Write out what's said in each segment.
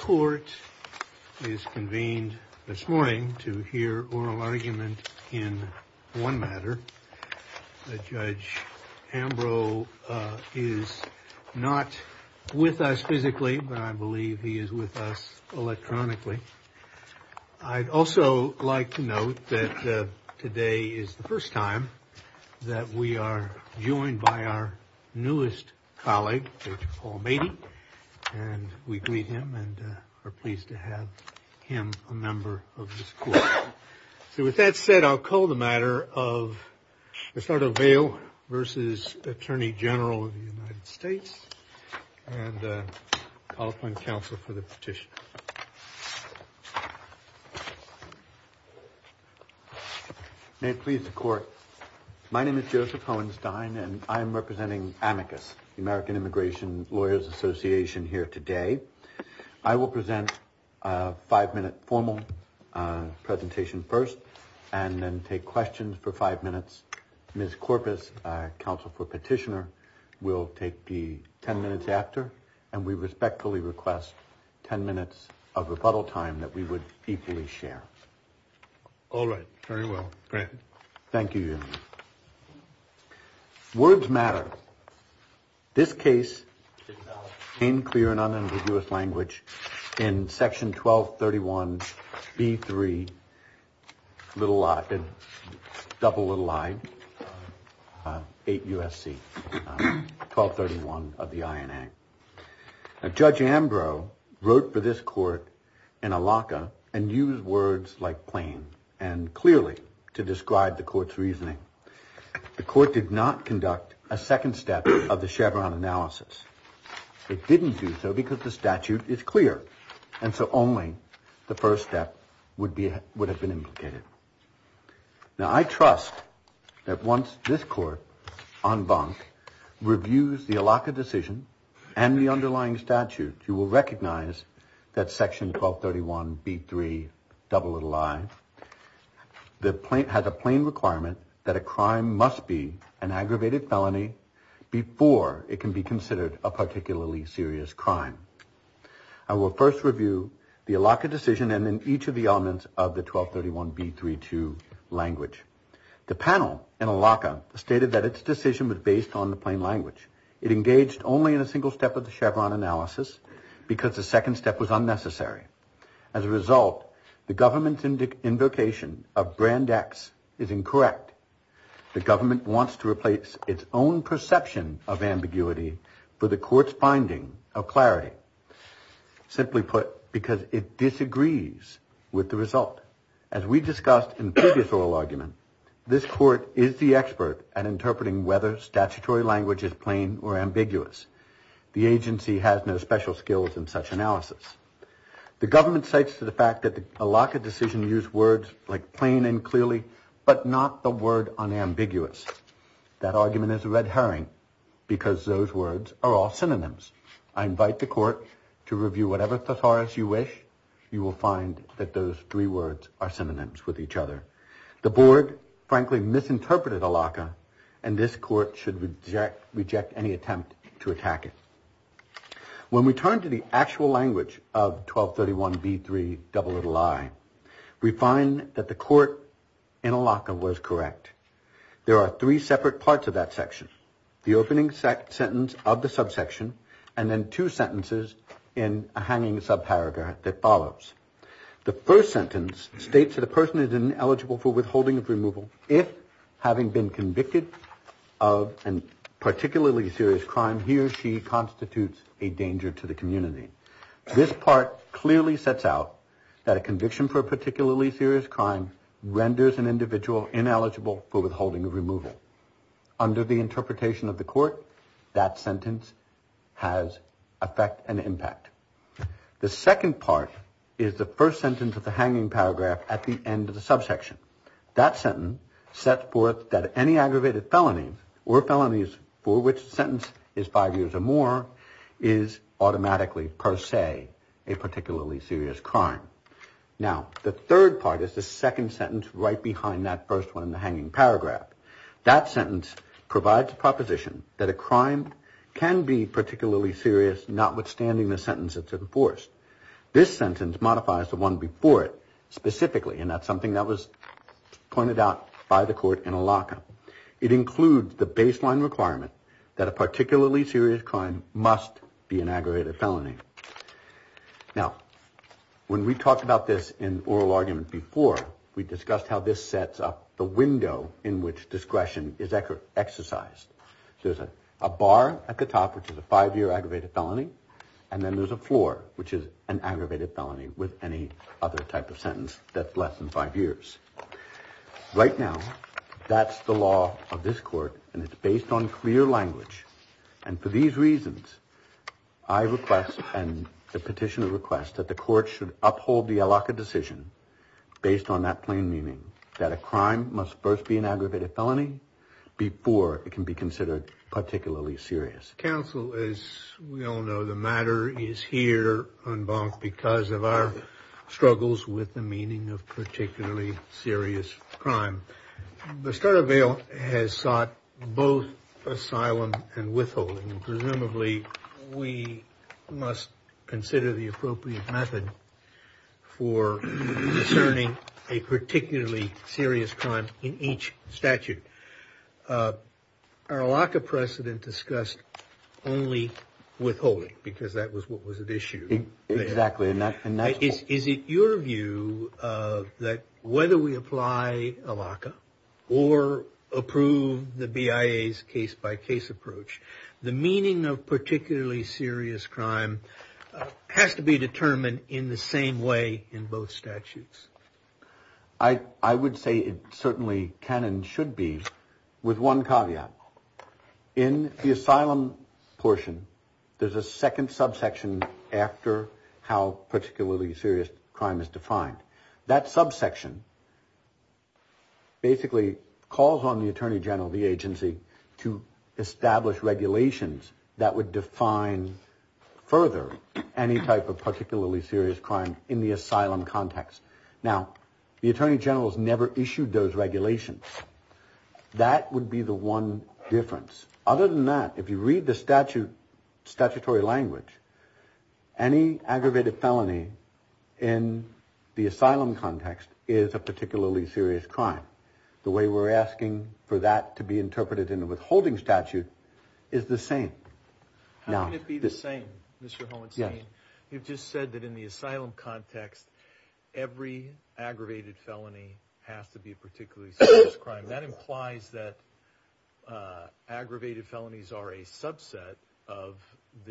Court is convened this morning to hear oral argument in one matter. Judge Ambrose is not with us physically, but I believe he is with us electronically. I'd also like to note that today is the first time that we are joined by our newest colleague, Judge Paul Meadey, and we greet him and are pleased to have him a member of this court. So with that said, I'll call the matter of Astardo-Vale v. Attorney General of the United States, and I'll call upon counsel for the petition. May it please the court. My name is Joseph Hohenstein and I am representing AMICUS, the American Immigration Lawyers Association here today. I will present a five-minute formal presentation first and then take questions for five minutes. Ms. Korpis, counsel for petitioner, will take the ten minutes after, and we respectfully request ten minutes of rebuttal time that we would equally share. All right. Very well. Thank you. Words matter. This case came clear and unambiguous language in section 1231B3, double little i, 8 U.S.C., 1231 of the INA. Judge Ambrose wrote for this court in a locker and used words like plain and clearly to describe the court's reasoning. The court did not conduct a second step of the Chevron analysis. It didn't do so because the statute is clear, and so only the first step would have been implicated. Now, I trust that once this court, en banc, reviews the locker decision and the underlying statute, you will recognize that section 1231B3, double little i, has a plain requirement that a crime must be an aggravated felony before it can be considered a particularly serious crime. I will first review the locker decision and then each of the elements of the 1231B32 language. The panel in a locker stated that its decision was based on the plain language. It engaged only in a single step of the Chevron analysis because the second step was unnecessary. As a result, the government's invocation of brand X is incorrect. The government wants to replace its own perception of ambiguity for the court's finding of clarity, simply put, because it disagrees with the result. As we discussed in the previous oral argument, this court is the expert at interpreting whether statutory language is plain or ambiguous. The government cites to the fact that the locker decision used words like plain and clearly, but not the word unambiguous. That argument is a red herring because those words are all synonyms. I invite the court to review whatever thesaurus you wish. You will find that those three words are synonyms with each other. The board, frankly, misinterpreted a locker, and this court should reject any attempt to attack it. When we turn to the actual language of 1231B3, double little I, we find that the court in a locker was correct. There are three separate parts of that section. The opening sentence of the subsection, and then two sentences in a hanging subparagraph that follows. The first sentence states that a person is ineligible for withholding of removal if, having been convicted of a particularly serious crime, he or she constitutes a danger to the community. This part clearly sets out that a conviction for a particularly serious crime renders an individual ineligible for withholding of removal. Under the interpretation of the court, that sentence has effect and impact. The second part is the first sentence of the hanging paragraph at the end of the subsection. That sentence sets forth that any aggravated felony or felonies for which the sentence is five years or more is automatically, per se, a particularly serious crime. Now, the third part is the second sentence right behind that first one in the hanging paragraph. That sentence provides a proposition that a crime can be particularly serious, notwithstanding the sentence that's enforced. This sentence modifies the one before it specifically, and that's something that was pointed out by the court in Alaca. It includes the baseline requirement that a particularly serious crime must be an aggravated felony. Now, when we talked about this in oral argument before, we discussed how this sets up the window in which discretion is exercised. There's a bar at the top, which is a five-year aggravated felony, and then there's a floor, which is an aggravated felony with any other type of sentence that's less than five years. Right now, that's the law of this court, and it's based on clear language. And for these reasons, I request, and the petitioner requests, that the court should uphold the Alaca decision based on that plain meaning, that a crime must first be an aggravated felony before it can be considered particularly serious. Counsel, as we struggles with the meaning of particularly serious crime, the start of bail has sought both asylum and withholding. Presumably, we must consider the appropriate method for discerning a particularly serious crime in each statute. Our Alaca precedent discussed only withholding, because that was what was at issue. Is it your view that whether we apply Alaca or approve the BIA's case-by-case approach, the meaning of particularly serious crime has to be determined in the same way in both statutes? I would say it certainly can and should be with one caveat. In the second subsection, after how particularly serious crime is defined, that subsection basically calls on the Attorney General of the agency to establish regulations that would define further any type of particularly serious crime in the asylum context. Now, the Attorney General has never issued those regulations. That would be the one difference. Other than that, if you read the statute, statutory language, any aggravated felony in the asylum context is a particularly serious crime. The way we're asking for that to be interpreted in a withholding statute is the same. How can it be the same, Mr. Hohenstein? You've just said that in the asylum context, every aggravated felony has to be a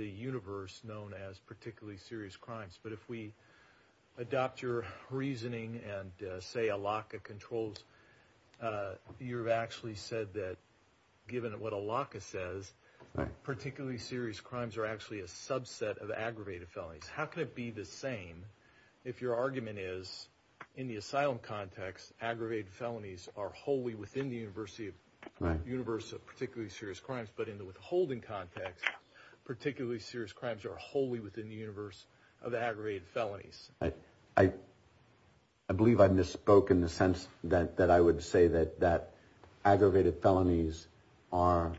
universe known as particularly serious crimes. But if we adopt your reasoning and say Alaca controls, you've actually said that, given what Alaca says, particularly serious crimes are actually a subset of aggravated felonies. How can it be the same if your argument is, in the asylum context, aggravated felonies are wholly within the universe of particularly serious crimes, but in the withholding context, particularly serious crimes are wholly within the universe of aggravated felonies? I believe I misspoke in the sense that I would say that aggravated felonies are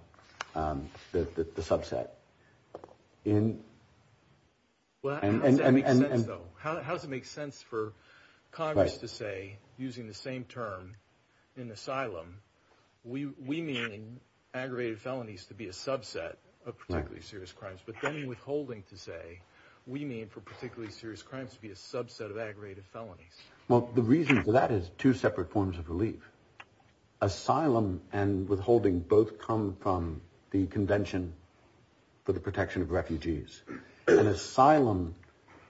the subset. How does it make sense for Congress to say, using the same term in asylum, we mean aggravated felonies to be a subset of particularly serious crimes, but then in withholding to say, we mean for particularly serious crimes to be a subset of aggravated felonies. Well, the reason for that is two separate forms of relief. Asylum and withholding both come from the Convention for the Protection of Refugees. An asylum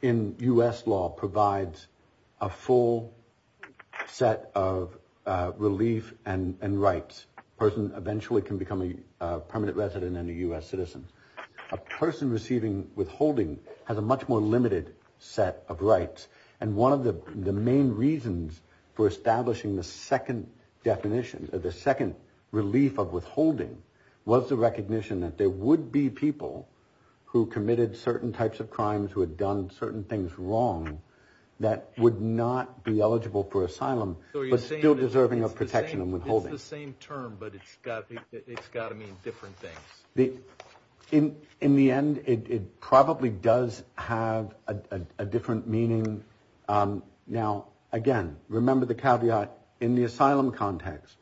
in U.S. law provides a full set of relief and rights. A person eventually can become a permanent resident and a U.S. citizen. A person receiving withholding has a much more limited set of rights. And one of the main reasons for establishing the second definition, the second relief of withholding, was the recognition that there would be people who committed certain types of crimes, who had done certain things wrong, that would not be eligible for asylum, but still deserving of protection and withholding. It's the same term, but it's got to mean different things. In the end, it probably does have a different meaning. Now, again, remember the caveat in the asylum context.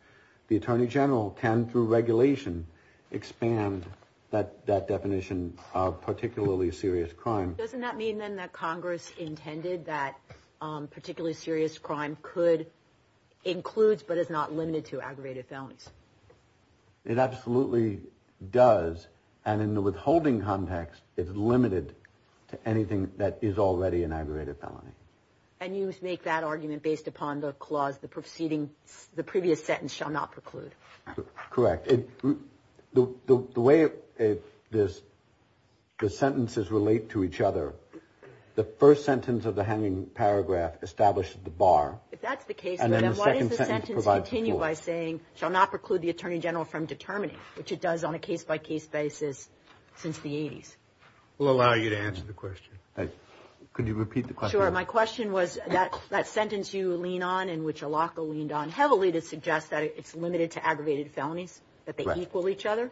The Attorney General can, through regulation, expand that definition of particularly serious crime. Doesn't that mean, then, that Congress intended that particularly serious crime could include, but is not limited to, aggravated felonies? It absolutely does. And in the withholding context, it's limited to anything that is already an aggravated felony. And you make that argument based upon the clause, the preceding, the previous sentence shall not preclude. Correct. The way the sentences relate to each other, the first sentence of the hanging paragraph establishes the bar. If that's the case, then why does the sentence continue by saying, shall not preclude the Attorney General from determining, which it does on a case-by-case basis since the 80s? We'll allow you to answer the question. Could you repeat the question? The question was, that sentence you lean on, in which Alaco leaned on heavily, to suggest that it's limited to aggravated felonies, that they equal each other?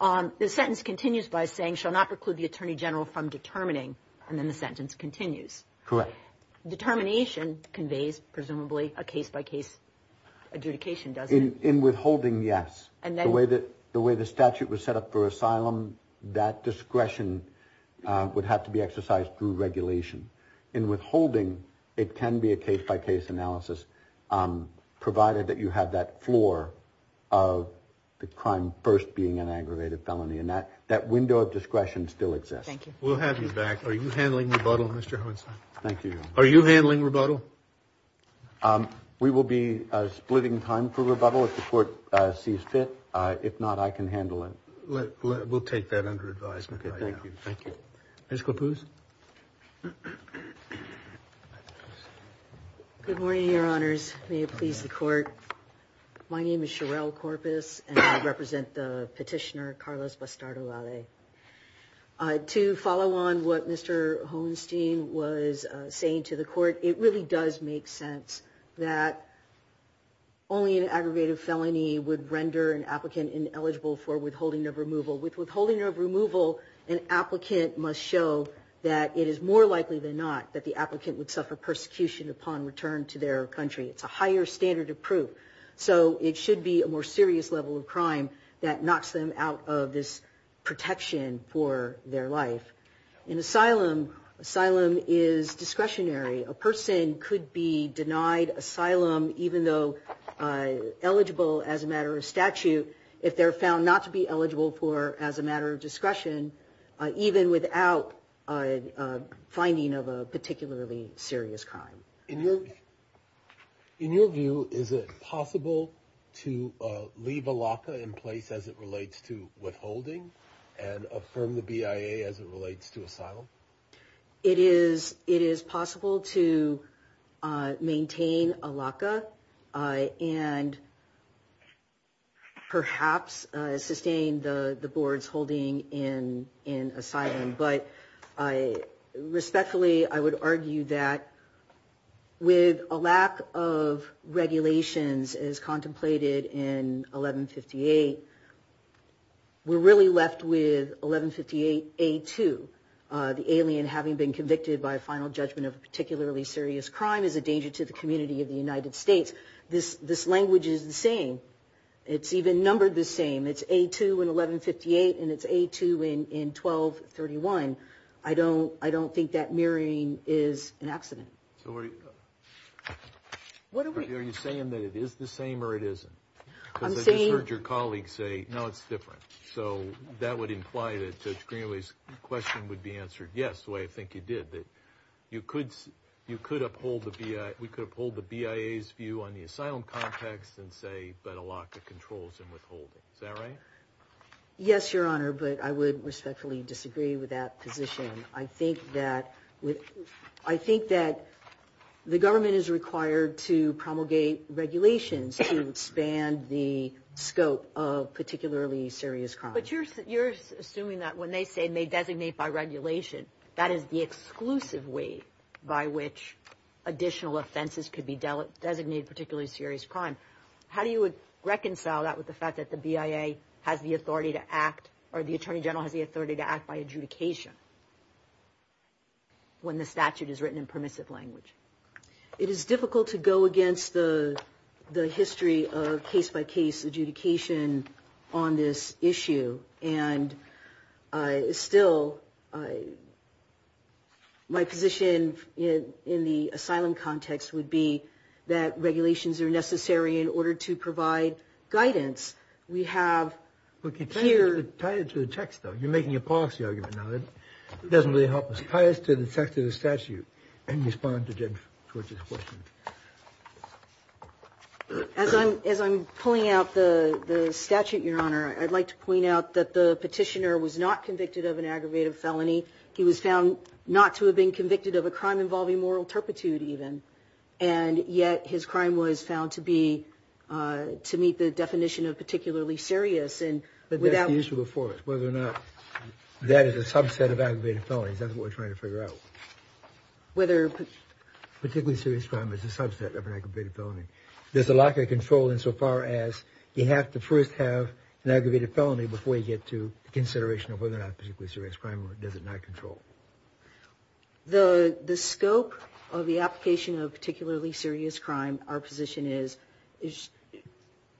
The sentence continues by saying, shall not preclude the Attorney General from determining, and then the sentence continues. Correct. Determination conveys, presumably, a case-by-case adjudication, doesn't it? In withholding, yes. The way the statute was set up for asylum, that discretion would have to be exercised through regulation. In withholding, it can be a case-by-case analysis, provided that you have that floor of the crime first being an aggravated felony, and that window of discretion still exists. Thank you. We'll have you back. Are you handling rebuttal, Mr. Hohenzollern? Thank you. Are you handling rebuttal? We will be splitting time for rebuttal if the Court sees fit. If not, I can handle it. We'll take that under advisement. Okay, thank you. Ms. Clapuz? Good morning, Your Honors. May it please the Court. My name is Sherelle Corpus, and I represent the petitioner, Carlos Bastardo-Lade. To follow on what Mr. Holstein was saying to the Court, it really does make sense that only an aggravated felony would render an applicant ineligible for withholding of removal. With withholding of removal, an applicant must show that it is more likely than not that the applicant would suffer persecution upon return to their country. It's a higher standard of proof. So it should be a more serious level of crime that knocks them out of this protection for their life. In asylum, asylum is discretionary. A person could be denied asylum, even though eligible as a matter of statute, if they're found not to be eligible for as a matter of discretion, even without finding of a particularly serious crime. In your view, is it possible to leave a LACA in place as it relates to withholding and affirm the BIA as it relates to asylum? It is possible to maintain a LACA and perhaps sustain the board's holding in asylum, but respectfully, I would argue that with a lack of regulations as contemplated in 1158, we're really left with 1158A2, the alien having been convicted by a final judgment of a particularly serious crime is a danger to the community of the United States. This language is the same. It's even numbered the same. It's A2 in 1158 and it's A2 in 1231. I don't think that mirroring is an accident. Are you saying that it is the same or it isn't? I just heard your colleague say, no, it's different. So that would imply that Judge Greenaway's question would be answered yes, the way I think you did. That you could, you could uphold the BIA, we could uphold the BIA's view on the asylum context and say, but a LACA controls and withholding. Is that right? Yes, Your Honor, but I would respectfully disagree with that position. I think that with, I think that the government is required to promulgate regulations to expand the scope of particularly serious crime. But you're, you're assuming that when they say may designate by regulation, that is the exclusive way by which additional offenses could be designated particularly serious crime. How do you reconcile that with the fact that the BIA has the authority to act or the Attorney General has the authority to act by adjudication when the statute is written in permissive language? It is difficult to go against the, the history of case by case adjudication on this issue. And I still, my position in the asylum context would be that regulations are necessary in order to provide guidance. We have. Okay, tie it to the text though. You're making a policy argument now that doesn't really help us. Tie it to the text of the statute and respond to Judge Torch's question. As I'm, as I'm pulling out the statute, Your Honor, I'd like to point out that the petitioner was not convicted of an aggravated felony. He was found not to have been convicted of a crime involving moral turpitude even. And yet his crime was found to be, to meet the definition of particularly serious and without... That's the issue before us, whether or not that is a subset of aggravated felonies. That's what we're trying to figure out. Whether... Particularly serious crime is a subset of an aggravated felony. There's a lack of control insofar as you have to first have an aggravated felony before you get to consideration of whether or not particularly serious crime does it not control. The scope of the application of particularly serious crime, our position is,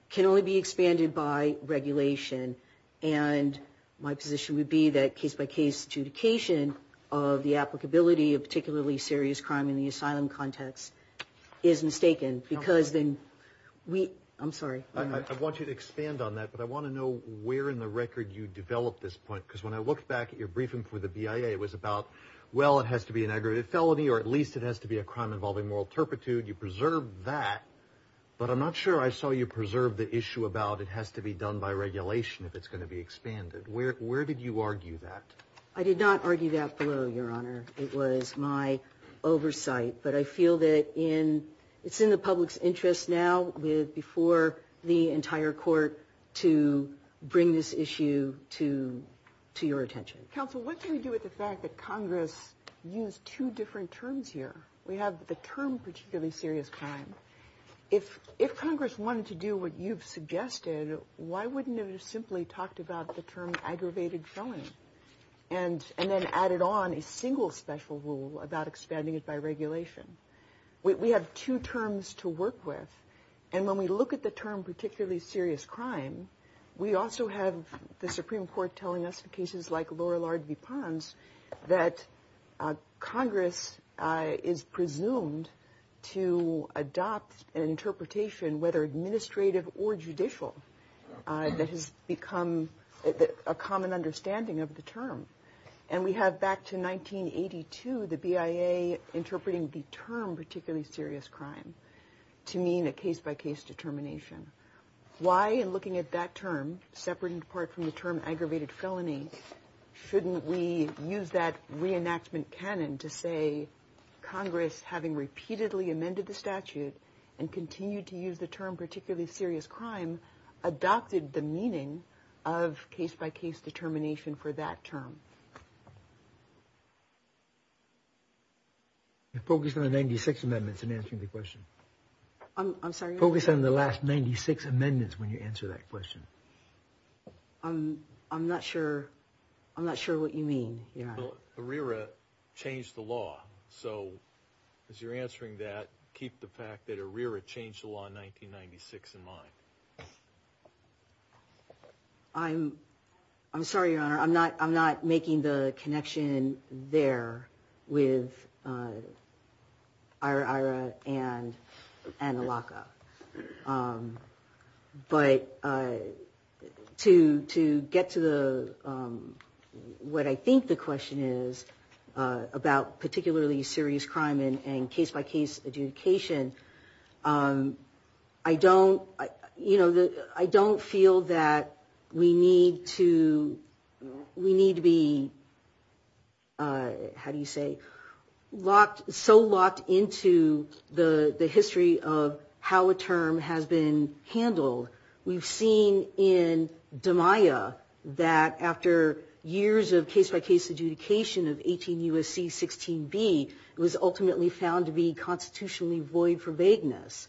can only be expanded by regulation. And my position would be that case-by-case adjudication of the applicability of particularly serious crime in the asylum context is mistaken because then we... I'm sorry. I want you to expand on that, but I want to know where in the record you developed this point. Because when I looked back at your briefing for the BIA, it was about, well, it has to be an aggravated felony, or at least it has to be a crime involving moral turpitude. You preserved that, but I'm not sure I saw you preserve the issue about it has to be done by regulation if it's going to be expanded. Where, where did you argue that? I did not argue that below, Your Honor. It was my oversight, but I feel that it's in the public's interest now before the entire court to bring this issue to your attention. Counsel, what do we do with the fact that Congress used two different terms here? We have the term particularly serious crime. If Congress wanted to do what you've suggested, why wouldn't it have simply talked about the term aggravated felony and then added on a single special rule about expanding it by regulation? We have two terms to work with, and when we look at the term particularly serious crime, we also have the Supreme Court telling us in cases like Laura Lard v. Pons that Congress is presumed to adopt an interpretation, whether administrative or judicial, that has become a common understanding of the term. And we have back to 1982 the BIA interpreting the term particularly serious crime to mean a case-by-case determination. Why, in looking at that term, separate and apart from the term aggravated felony, shouldn't we use that reenactment canon to say Congress, having repeatedly amended the statute and continued to use the term particularly serious crime, adopted the meaning of case-by-case determination for that term? Focus on the 96 amendments in answering the question. I'm sorry? Focus on the last 96 amendments when you answer that question. I'm not sure what you mean. ARIRA changed the law. So as you're answering that, keep the fact that ARIRA changed the law in 1996 in mind. I'm sorry, Your Honor. I'm not making the connection there with ARIRA and ALACA. But to get to what I think the question is about particularly serious crime and case-by-case adjudication, I don't feel that we need to be, how do you say, so locked into the history of how a term has been handled. We've seen in DMIA that after years of case-by-case adjudication of 18 U.S.C. 16B, it was ultimately found to be constitutionally void for vagueness.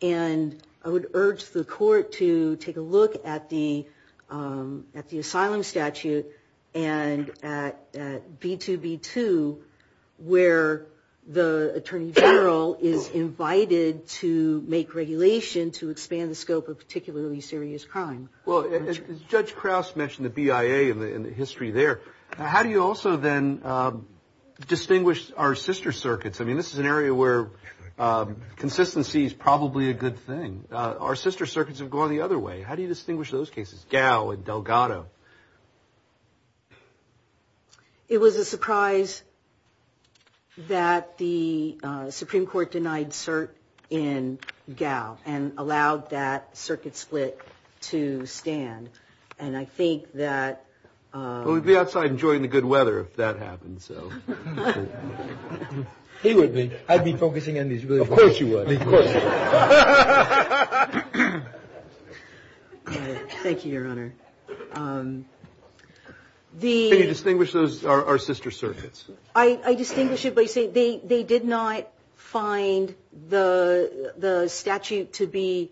And I would urge the court to take a look at the asylum statute and at B2B2, where the attorney general is invited to make regulation to expand the scope of particularly serious crime. Well, Judge Krause mentioned the BIA and the history there. How do you also then distinguish our sister circuits? I mean, this is an area where consistency is probably a good thing. Our sister circuits have gone the other way. How do you distinguish those cases, Gao and Delgado? It was a surprise that the Supreme Court denied cert in Gao and allowed that circuit split to stand. And I think that... Well, we'd be outside enjoying the good weather if that happened, so... He would be. I'd be focusing on these really important... Of course you would. Of course you would. Thank you, Your Honor. Okay. Can you distinguish those, our sister circuits? I distinguish it by saying they did not find the statute to be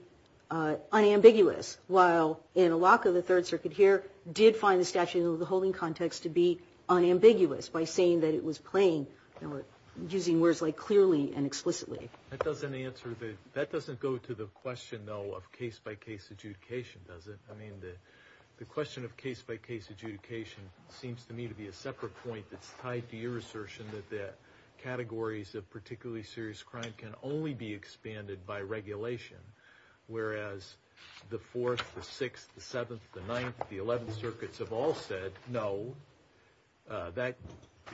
unambiguous, while Anilaka, the third circuit here, did find the statute in the holding context to be unambiguous by saying that it was plain, using words like clearly and explicitly. That doesn't answer the... I mean, the question of case-by-case adjudication seems to me to be a separate point that's tied to your assertion that the categories of particularly serious crime can only be expanded by regulation, whereas the fourth, the sixth, the seventh, the ninth, the eleventh circuits have all said no.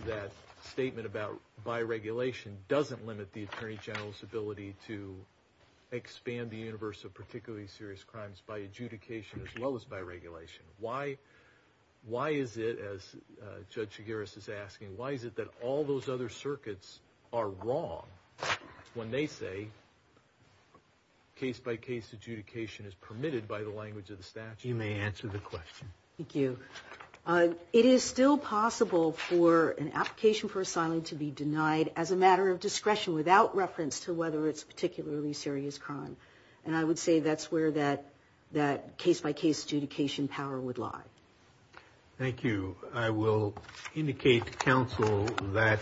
That statement about by regulation doesn't limit the Attorney General's ability to expand the universe of particularly serious crimes by adjudication as well as by regulation. Why is it, as Judge Chigurhs is asking, why is it that all those other circuits are wrong when they say case-by-case adjudication is permitted by the language of the statute? You may answer the question. Thank you. It is still possible for an application for asylum to be denied as a matter of discretion without reference to whether it's particularly serious crime, and I would say that's where that case-by-case adjudication power would lie. Thank you. I will indicate to counsel that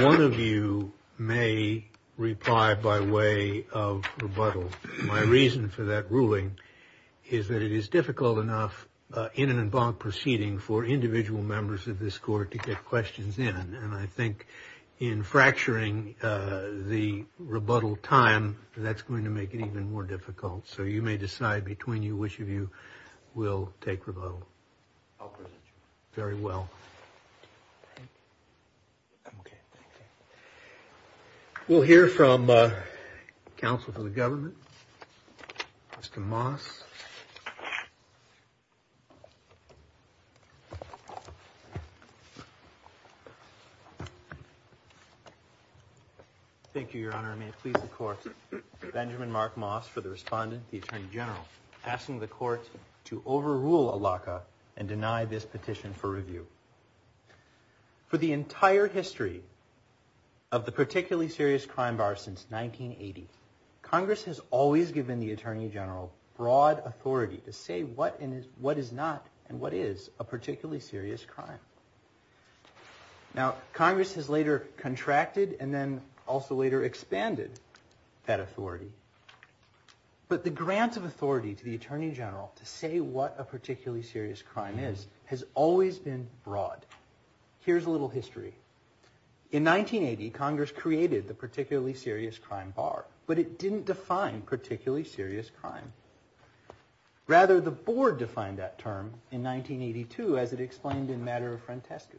one of you may reply by way of rebuttal. My reason for that ruling is that it is difficult enough in an en banc proceeding for individual members of this Court to get questions in, and I think in fracturing the rebuttal time, that's going to make it even more difficult. So you may decide between you which of you will take rebuttal. I'll present you. Very well. Thank you. We'll hear from counsel for the government, Mr. Moss. Thank you, Your Honor. I may please the Court. Benjamin Mark Moss for the respondent, the Attorney General, asking the Court to overrule ALACA and deny this petition for review. For the entire history of the particularly serious crime bar since 1980, Congress has always given the Attorney General broad authority to say what is not and what is a particularly serious crime. Now, Congress has later contracted and then also later expanded that authority, but the grant of authority to the Attorney General to say what a particularly serious crime is has always been broad. Here's a little history. In 1980, Congress created the particularly serious crime bar, but it didn't define particularly serious crime. Rather, the Board defined that term in 1982 as it explained in Matter of Frantescu.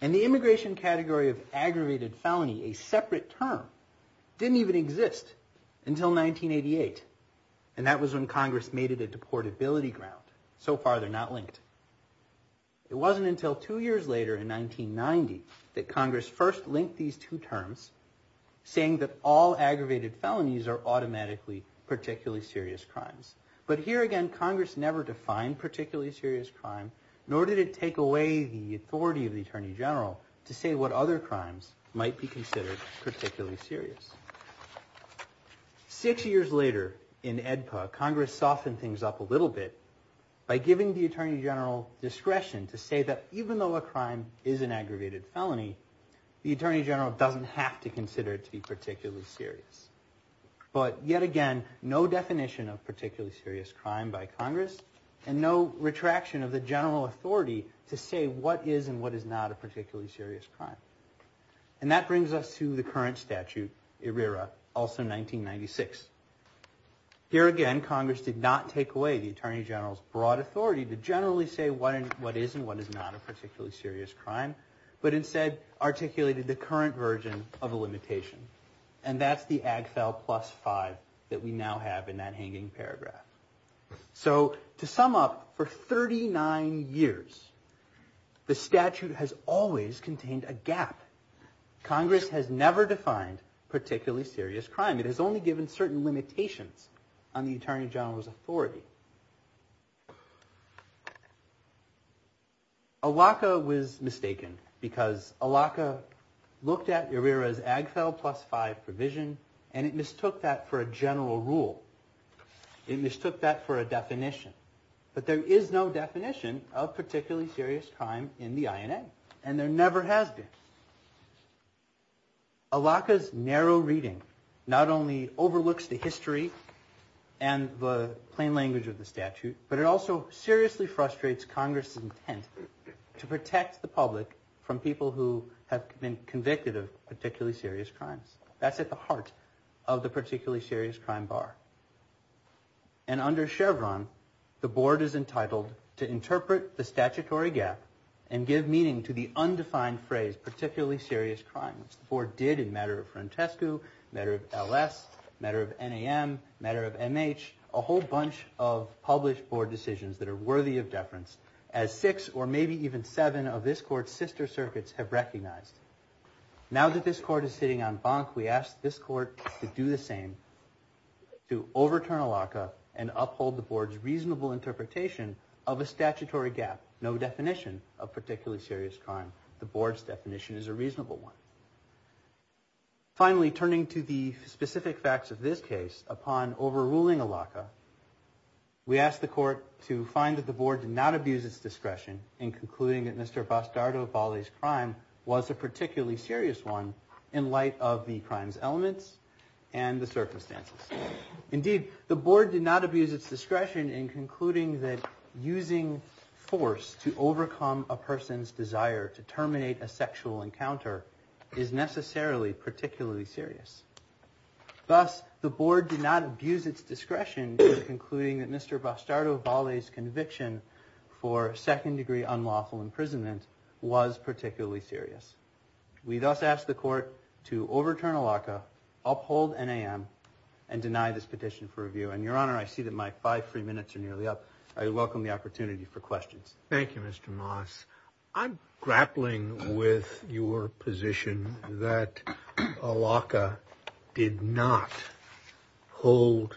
In the immigration category of aggravated felony, a separate term didn't even exist until 1988, and that was when Congress made it a deportability ground. So far, they're not linked. It wasn't until two years later in 1990 that Congress first linked these two terms, saying that all aggravated felonies are automatically particularly serious crimes. But here again, Congress never defined particularly serious crime, nor did it take away the authority of the Attorney General to say what other crimes might be considered particularly serious. Six years later in AEDPA, Congress softened things up a little bit by giving the Attorney General discretion to say that even though a crime is an aggravated felony, the Attorney General doesn't have to consider it to be particularly serious. But yet again, no definition of particularly serious crime by Congress and no retraction of the general authority to say what is and what is not a particularly serious crime. And that brings us to the current statute, IRERA, also 1996. Here again, Congress did not take away the Attorney General's broad authority to generally say what is and what is not a particularly serious crime, but instead articulated the current version of a limitation. And that's the AGFEL plus 5 that we now have in that hanging paragraph. So to sum up, for 39 years, the statute has always contained a gap. Congress has never defined particularly serious crime. It has only given certain limitations on the Attorney General's authority. ALACA was mistaken because ALACA looked at IRERA's AGFEL plus 5 provision and it mistook that for a general rule. It mistook that for a definition. But there is no definition of particularly serious crime in the INA, and there never has been. ALACA's narrow reading not only overlooks the history and the plain language of the statute, but it also seriously frustrates Congress's intent to protect the public from people who have been convicted of particularly serious crimes. That's at the heart of the particularly serious crime bar. And under Chevron, the board is entitled to interpret the statutory gap and give meaning to the undefined phrase particularly serious crimes. The board did in matter of Frantescu, matter of LS, matter of NAM, matter of MH, a whole bunch of published board decisions that are worthy of deference, as six or maybe even seven of this court's sister circuits have recognized. Now that this court is sitting on bunk, we ask this court to do the same, to overturn ALACA and uphold the board's reasonable interpretation of a statutory gap, no definition of particularly serious crime. The board's definition is a reasonable one. Finally, turning to the specific facts of this case, upon overruling ALACA, we ask the court to find that the board did not abuse its discretion in concluding that Mr. Bastardo Valle's crime was a particularly serious one in light of the crime's elements and the circumstances. Indeed, the board did not abuse its discretion in concluding that using force to overcome a person's desire to terminate a sexual encounter is necessarily particularly serious. Thus, the board did not abuse its discretion in concluding that Mr. Bastardo Valle's conviction for second-degree unlawful imprisonment was particularly serious. We thus ask the court to overturn ALACA, uphold NAM, and deny this petition for review. Your Honor, I see that my five free minutes are nearly up. I welcome the opportunity for questions. Thank you, Mr. Moss. I'm grappling with your position that ALACA did not hold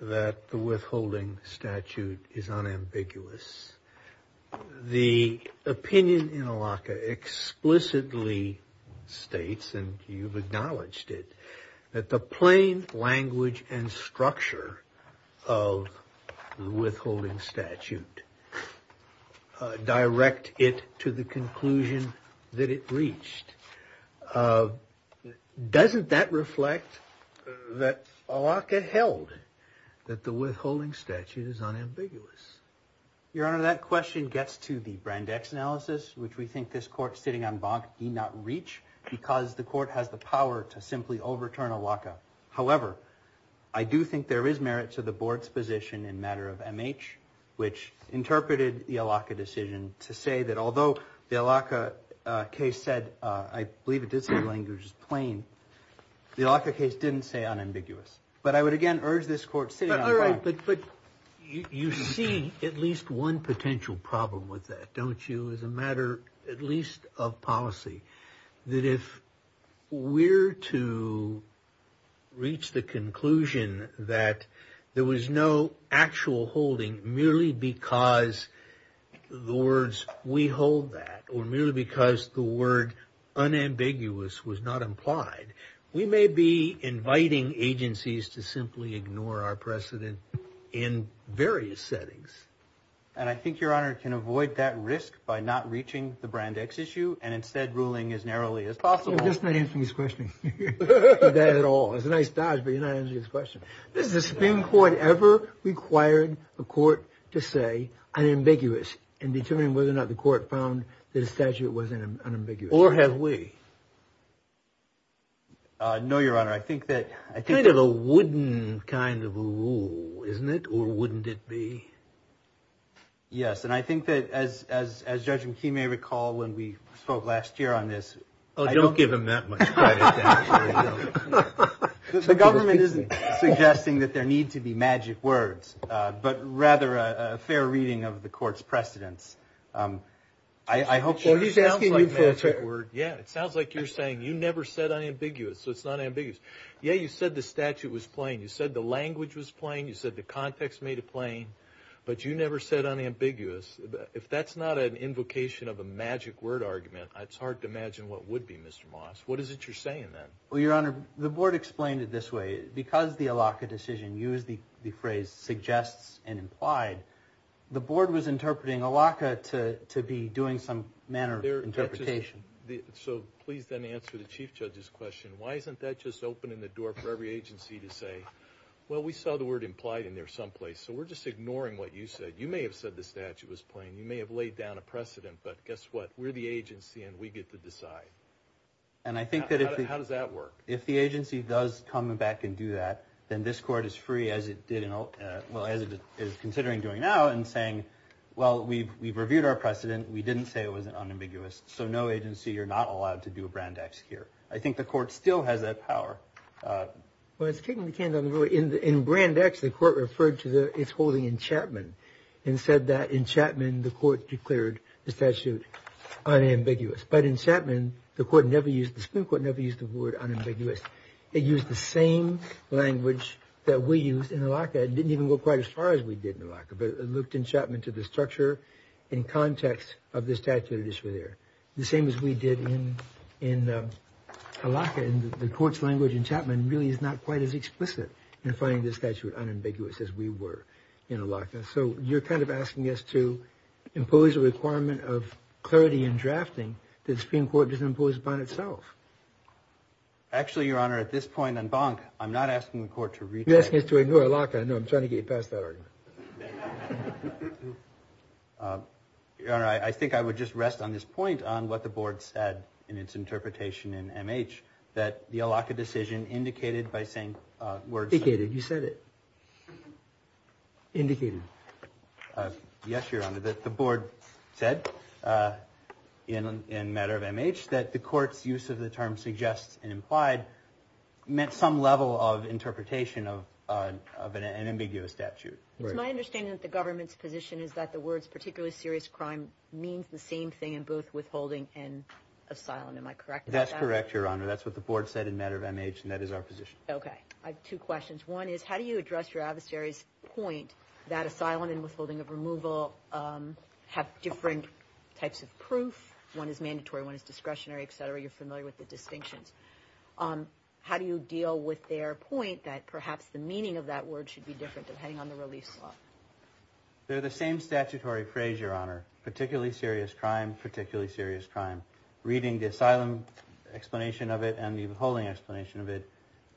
that the withholding statute is unambiguous. The opinion in ALACA explicitly states, and you've acknowledged it, that the plain language and structure of the withholding statute direct it to the conclusion that it reached. Doesn't that reflect that ALACA held that the withholding statute is unambiguous? Your Honor, that question gets to the Brandeis analysis, which we think this court sitting en banc need not reach because the court has the power to simply overturn ALACA. However, I do think there is merit to the board's position in matter of MH, which interpreted the ALACA decision to say that although the ALACA case said, I believe it did say the language was plain, the ALACA case didn't say unambiguous. But I would again urge this court sitting en banc. But you see at least one potential problem with that, don't you, as a matter at least of policy, that if we're to reach the conclusion that there was no actual holding merely because the words we hold that, or merely because the word unambiguous was not implied, we may be inviting agencies to simply ignore our precedent in various settings. And I think, Your Honor, can avoid that risk by not reaching the Brandeis issue and instead ruling as narrowly as possible. You're just not answering his question. Not at all. It's a nice dodge, but you're not answering his question. Has the Supreme Court ever required a court to say unambiguous in determining whether or not the court found that a statute was unambiguous? Or have we? No, Your Honor. I think that – Kind of a wooden kind of a rule, isn't it? Or wouldn't it be? Yes. And I think that as Judge McKee may recall when we spoke last year on this – Oh, don't give him that much credit. The government isn't suggesting that there need to be magic words, but rather a fair reading of the court's precedents. I hope – Well, he's asking you for a trick word. Yeah, it sounds like you're saying you never said unambiguous, so it's not ambiguous. Yeah, you said the statute was plain. You said the language was plain. You said the context made it plain. But you never said unambiguous. If that's not an invocation of a magic word argument, it's hard to imagine what would be, Mr. Moss. What is it you're saying then? Well, Your Honor, the board explained it this way. Because the ALACA decision used the phrase suggests and implied, the board was interpreting ALACA to be doing some manner of interpretation. So please then answer the Chief Judge's question. Why isn't that just opening the door for every agency to say, well, we saw the word implied in there someplace, so we're just ignoring what you said. You may have said the statute was plain. You may have laid down a precedent, but guess what? We're the agency, and we get to decide. How does that work? If the agency does come back and do that, then this Court is free, as it is considering doing now, in saying, well, we've reviewed our precedent. We didn't say it was unambiguous. So no agency, you're not allowed to do a Brand X here. I think the Court still has that power. Well, it's kicking the can down the road. In Brand X, the Court referred to its holding in Chapman and said that in Chapman the Court declared the statute unambiguous. But in Chapman, the Supreme Court never used the word unambiguous. It used the same language that we used in Allocca. It didn't even go quite as far as we did in Allocca, but it looked in Chapman to the structure and context of the statute at issue there. The same as we did in Allocca, and the Court's language in Chapman really is not quite as explicit in finding the statute unambiguous as we were in Allocca. So you're kind of asking us to impose a requirement of clarity in drafting that the Supreme Court doesn't impose upon itself. Actually, Your Honor, at this point on Bonk, I'm not asking the Court to retry. You're asking us to renew Allocca. I know I'm trying to get you past that argument. Your Honor, I think I would just rest on this point on what the Board said in its interpretation in MH, that the Allocca decision indicated by saying words. Indicated. You said it. Indicated. Yes, Your Honor, that the Board said in matter of MH that the Court's use of the term suggests and implied meant some level of interpretation of an ambiguous statute. It's my understanding that the government's position is that the words particularly serious crime means the same thing in both withholding and asylum. Am I correct about that? That's correct, Your Honor. That's what the Board said in matter of MH, and that is our position. Okay. I have two questions. One is, how do you address your adversary's point that asylum and withholding of removal have different types of proof? One is mandatory, one is discretionary, et cetera. You're familiar with the distinctions. How do you deal with their point that perhaps the meaning of that word should be different depending on the release law? They're the same statutory phrase, Your Honor. Particularly serious crime, particularly serious crime. Reading the asylum explanation of it and the withholding explanation of it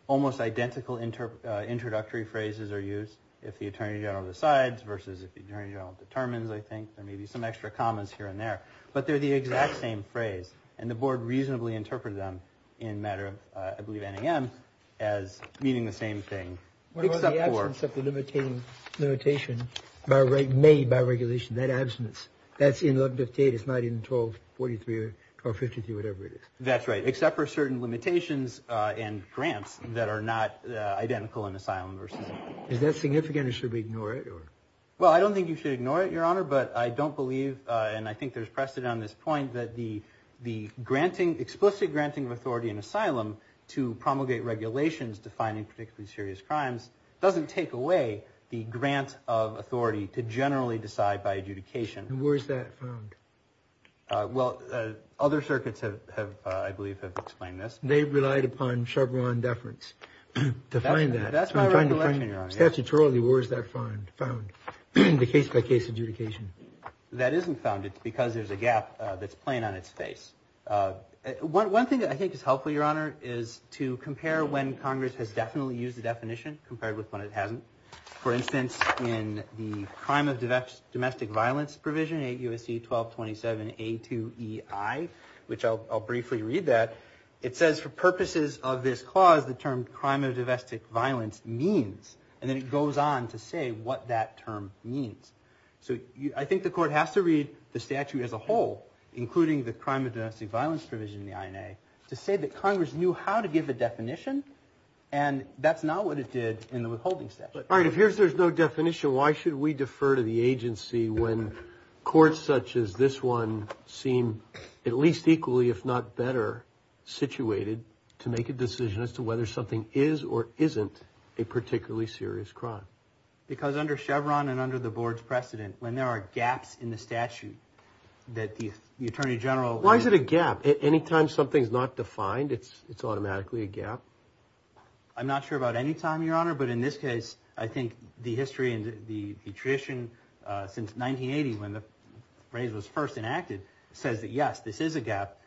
almost identical introductory phrases are used if the Attorney General decides versus if the Attorney General determines, I think. There may be some extra commas here and there. But they're the exact same phrase. And the Board reasonably interpreted them in matter of, I believe, NAM as meaning the same thing. What about the absence of the limitation made by regulation, that absence? That's in 1158. It's not in 1243 or 1253, whatever it is. That's right, except for certain limitations and grants that are not identical in asylum versus asylum. Is that significant or should we ignore it? Well, I don't think you should ignore it, Your Honor. But I don't believe, and I think there's precedent on this point, that the explicit granting of authority in asylum to promulgate regulations defining particularly serious crimes doesn't take away the grant of authority to generally decide by adjudication. And where is that found? Well, other circuits, I believe, have explained this. They relied upon Chevron deference to find that. That's my recollection, Your Honor. Statutorily, where is that found? The case-by-case adjudication. That isn't found. It's because there's a gap that's playing on its face. One thing that I think is helpful, Your Honor, is to compare when Congress has definitely used the definition compared with when it hasn't. For instance, in the crime of domestic violence provision, 8 U.S.C. 1227 A2EI, which I'll briefly read that, it says for purposes of this clause, the term crime of domestic violence means, and then it goes on to say what that term means. So I think the court has to read the statute as a whole, including the crime of domestic violence provision in the INA, to say that Congress knew how to give a definition, and that's not what it did in the withholding statute. All right, if there's no definition, why should we defer to the agency when courts such as this one seem at least equally, if not better, situated to make a decision as to whether something is or isn't a particularly serious crime? Because under Chevron and under the Board's precedent, when there are gaps in the statute that the Attorney General... Why is it a gap? Any time something's not defined, it's automatically a gap? I'm not sure about any time, Your Honor, but in this case, I think the history and the tradition since 1980, when the phrase was first enacted, says that, yes, this is a gap.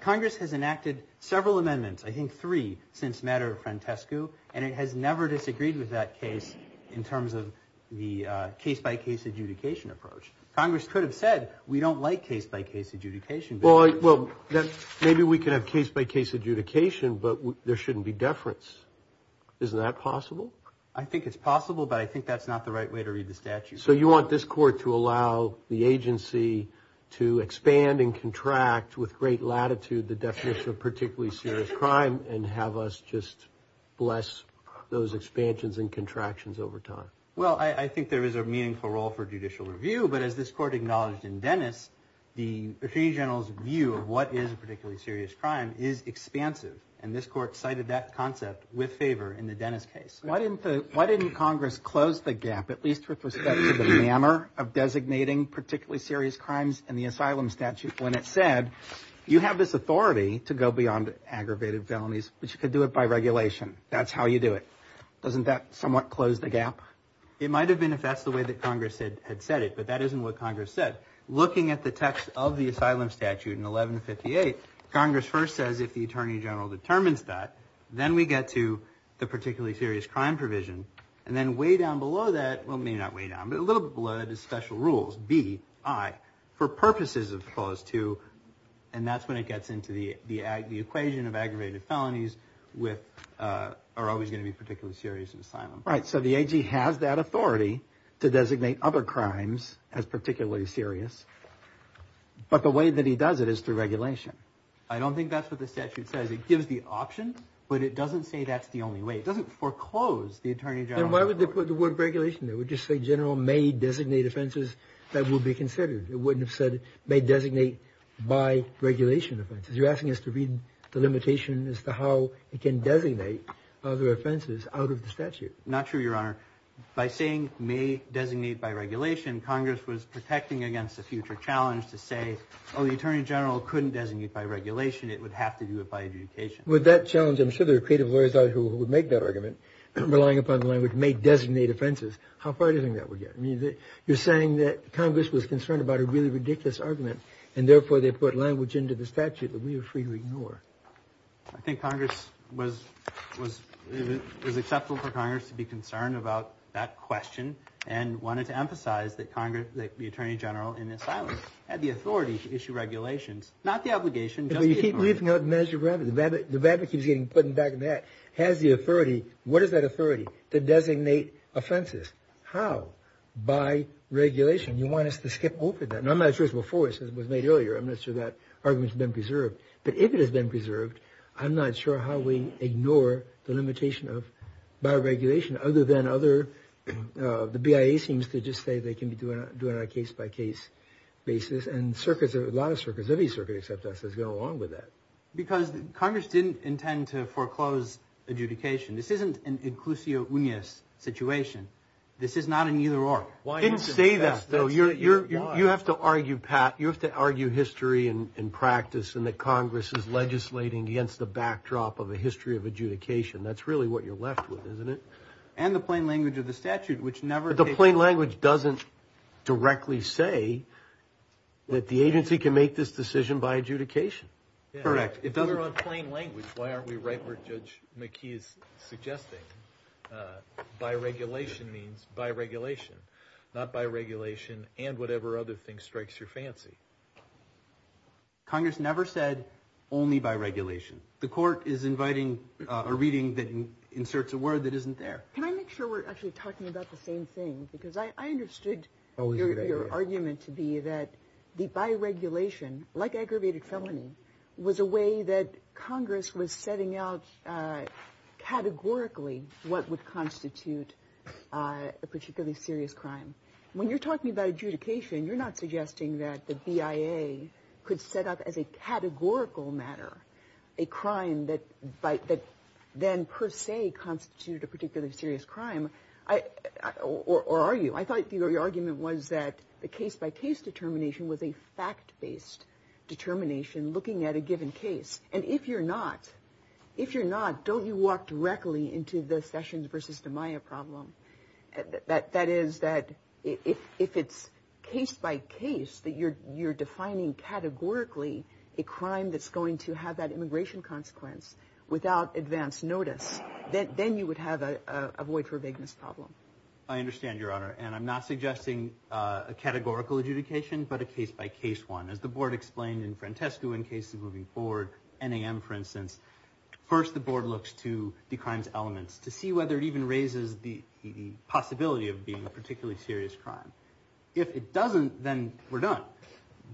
Congress has enacted several amendments, I think three, since matter of Francesco, and it has never disagreed with that case in terms of the case-by-case adjudication approach. Congress could have said, we don't like case-by-case adjudication. Well, maybe we could have case-by-case adjudication, but there shouldn't be deference. Isn't that possible? I think it's possible, but I think that's not the right way to read the statute. So you want this court to allow the agency to expand and contract with great latitude the definition of particularly serious crime and have us just bless those expansions and contractions over time? Well, I think there is a meaningful role for judicial review, but as this court acknowledged in Dennis, the Attorney General's view of what is a particularly serious crime is expansive, and this court cited that concept with favor in the Dennis case. Why didn't Congress close the gap, at least with respect to the manner of designating particularly serious crimes in the asylum statute when it said, you have this authority to go beyond aggravated felonies, but you could do it by regulation. That's how you do it. Doesn't that somewhat close the gap? It might have been if that's the way that Congress had said it, but that isn't what Congress said. Looking at the text of the asylum statute in 1158, Congress first says if the Attorney General determines that, then we get to the particularly serious crime provision, and then way down below that, well, maybe not way down, but a little bit below that is special rules, B, I, for purposes of clause 2, and that's when it gets into the equation of aggravated felonies are always going to be particularly serious in asylum. Right, so the AG has that authority to designate other crimes as particularly serious, but the way that he does it is through regulation. I don't think that's what the statute says. It gives the option, but it doesn't say that's the only way. It doesn't foreclose the Attorney General's authority. Then why would they put the word regulation there? It would just say general may designate offenses that will be considered. It wouldn't have said may designate by regulation offenses. You're asking us to read the limitation as to how it can designate other offenses out of the statute. Not true, Your Honor. By saying may designate by regulation, Congress was protecting against a future challenge to say, oh, the Attorney General couldn't designate by regulation. It would have to do it by adjudication. With that challenge, I'm sure there are creative lawyers out there who would make that argument, relying upon the language may designate offenses. How far do you think that would get? You're saying that Congress was concerned about a really ridiculous argument, and therefore they put language into the statute that we are free to ignore. I think Congress was acceptable for Congress to be concerned about that question and wanted to emphasize that the Attorney General in his silence had the authority to issue regulations, not the obligation, just the authority. You keep leaving out the measure of remedy. The remedy keeps getting put in the back of my head. Has the authority. What is that authority? To designate offenses. How? By regulation. You want us to skip over that. I'm not sure it's before it was made earlier. I'm not sure that argument's been preserved. But if it has been preserved, I'm not sure how we ignore the limitation of by regulation, other than the BIA seems to just say they can be doing it on a case-by-case basis. And a lot of circuits, every circuit except us, has gone along with that. Because Congress didn't intend to foreclose adjudication. This isn't an inclusio unius situation. This is not an either-or. I didn't say that, though. You have to argue, Pat, you have to argue history and practice and that Congress is legislating against the backdrop of a history of adjudication. That's really what you're left with, isn't it? And the plain language of the statute, which never takes place. But the plain language doesn't directly say that the agency can make this decision by adjudication. Correct. If we're on plain language, why aren't we right where Judge McKee is suggesting? By regulation means by regulation. Not by regulation and whatever other thing strikes your fancy. Congress never said only by regulation. The court is inviting a reading that inserts a word that isn't there. Can I make sure we're actually talking about the same thing? Because I understood your argument to be that the by regulation, like aggravated felony, was a way that Congress was setting out categorically what would constitute a particularly serious crime. When you're talking about adjudication, you're not suggesting that the BIA could set up as a categorical matter a crime that then per se constituted a particularly serious crime. Or are you? I thought your argument was that the case-by-case determination was a fact-based determination looking at a given case. And if you're not, if you're not, don't you walk directly into the Sessions v. DiMaia problem? That is that if it's case-by-case that you're defining categorically a crime that's going to have that immigration consequence without advance notice, then you would have a void-for-vigness problem. I understand, Your Honor, and I'm not suggesting a categorical adjudication, but a case-by-case one. As the board explained in Francesco in cases moving forward, NAM for instance, first the board looks to the crime's elements to see whether it even raises the possibility of being a particularly serious crime. If it doesn't, then we're done.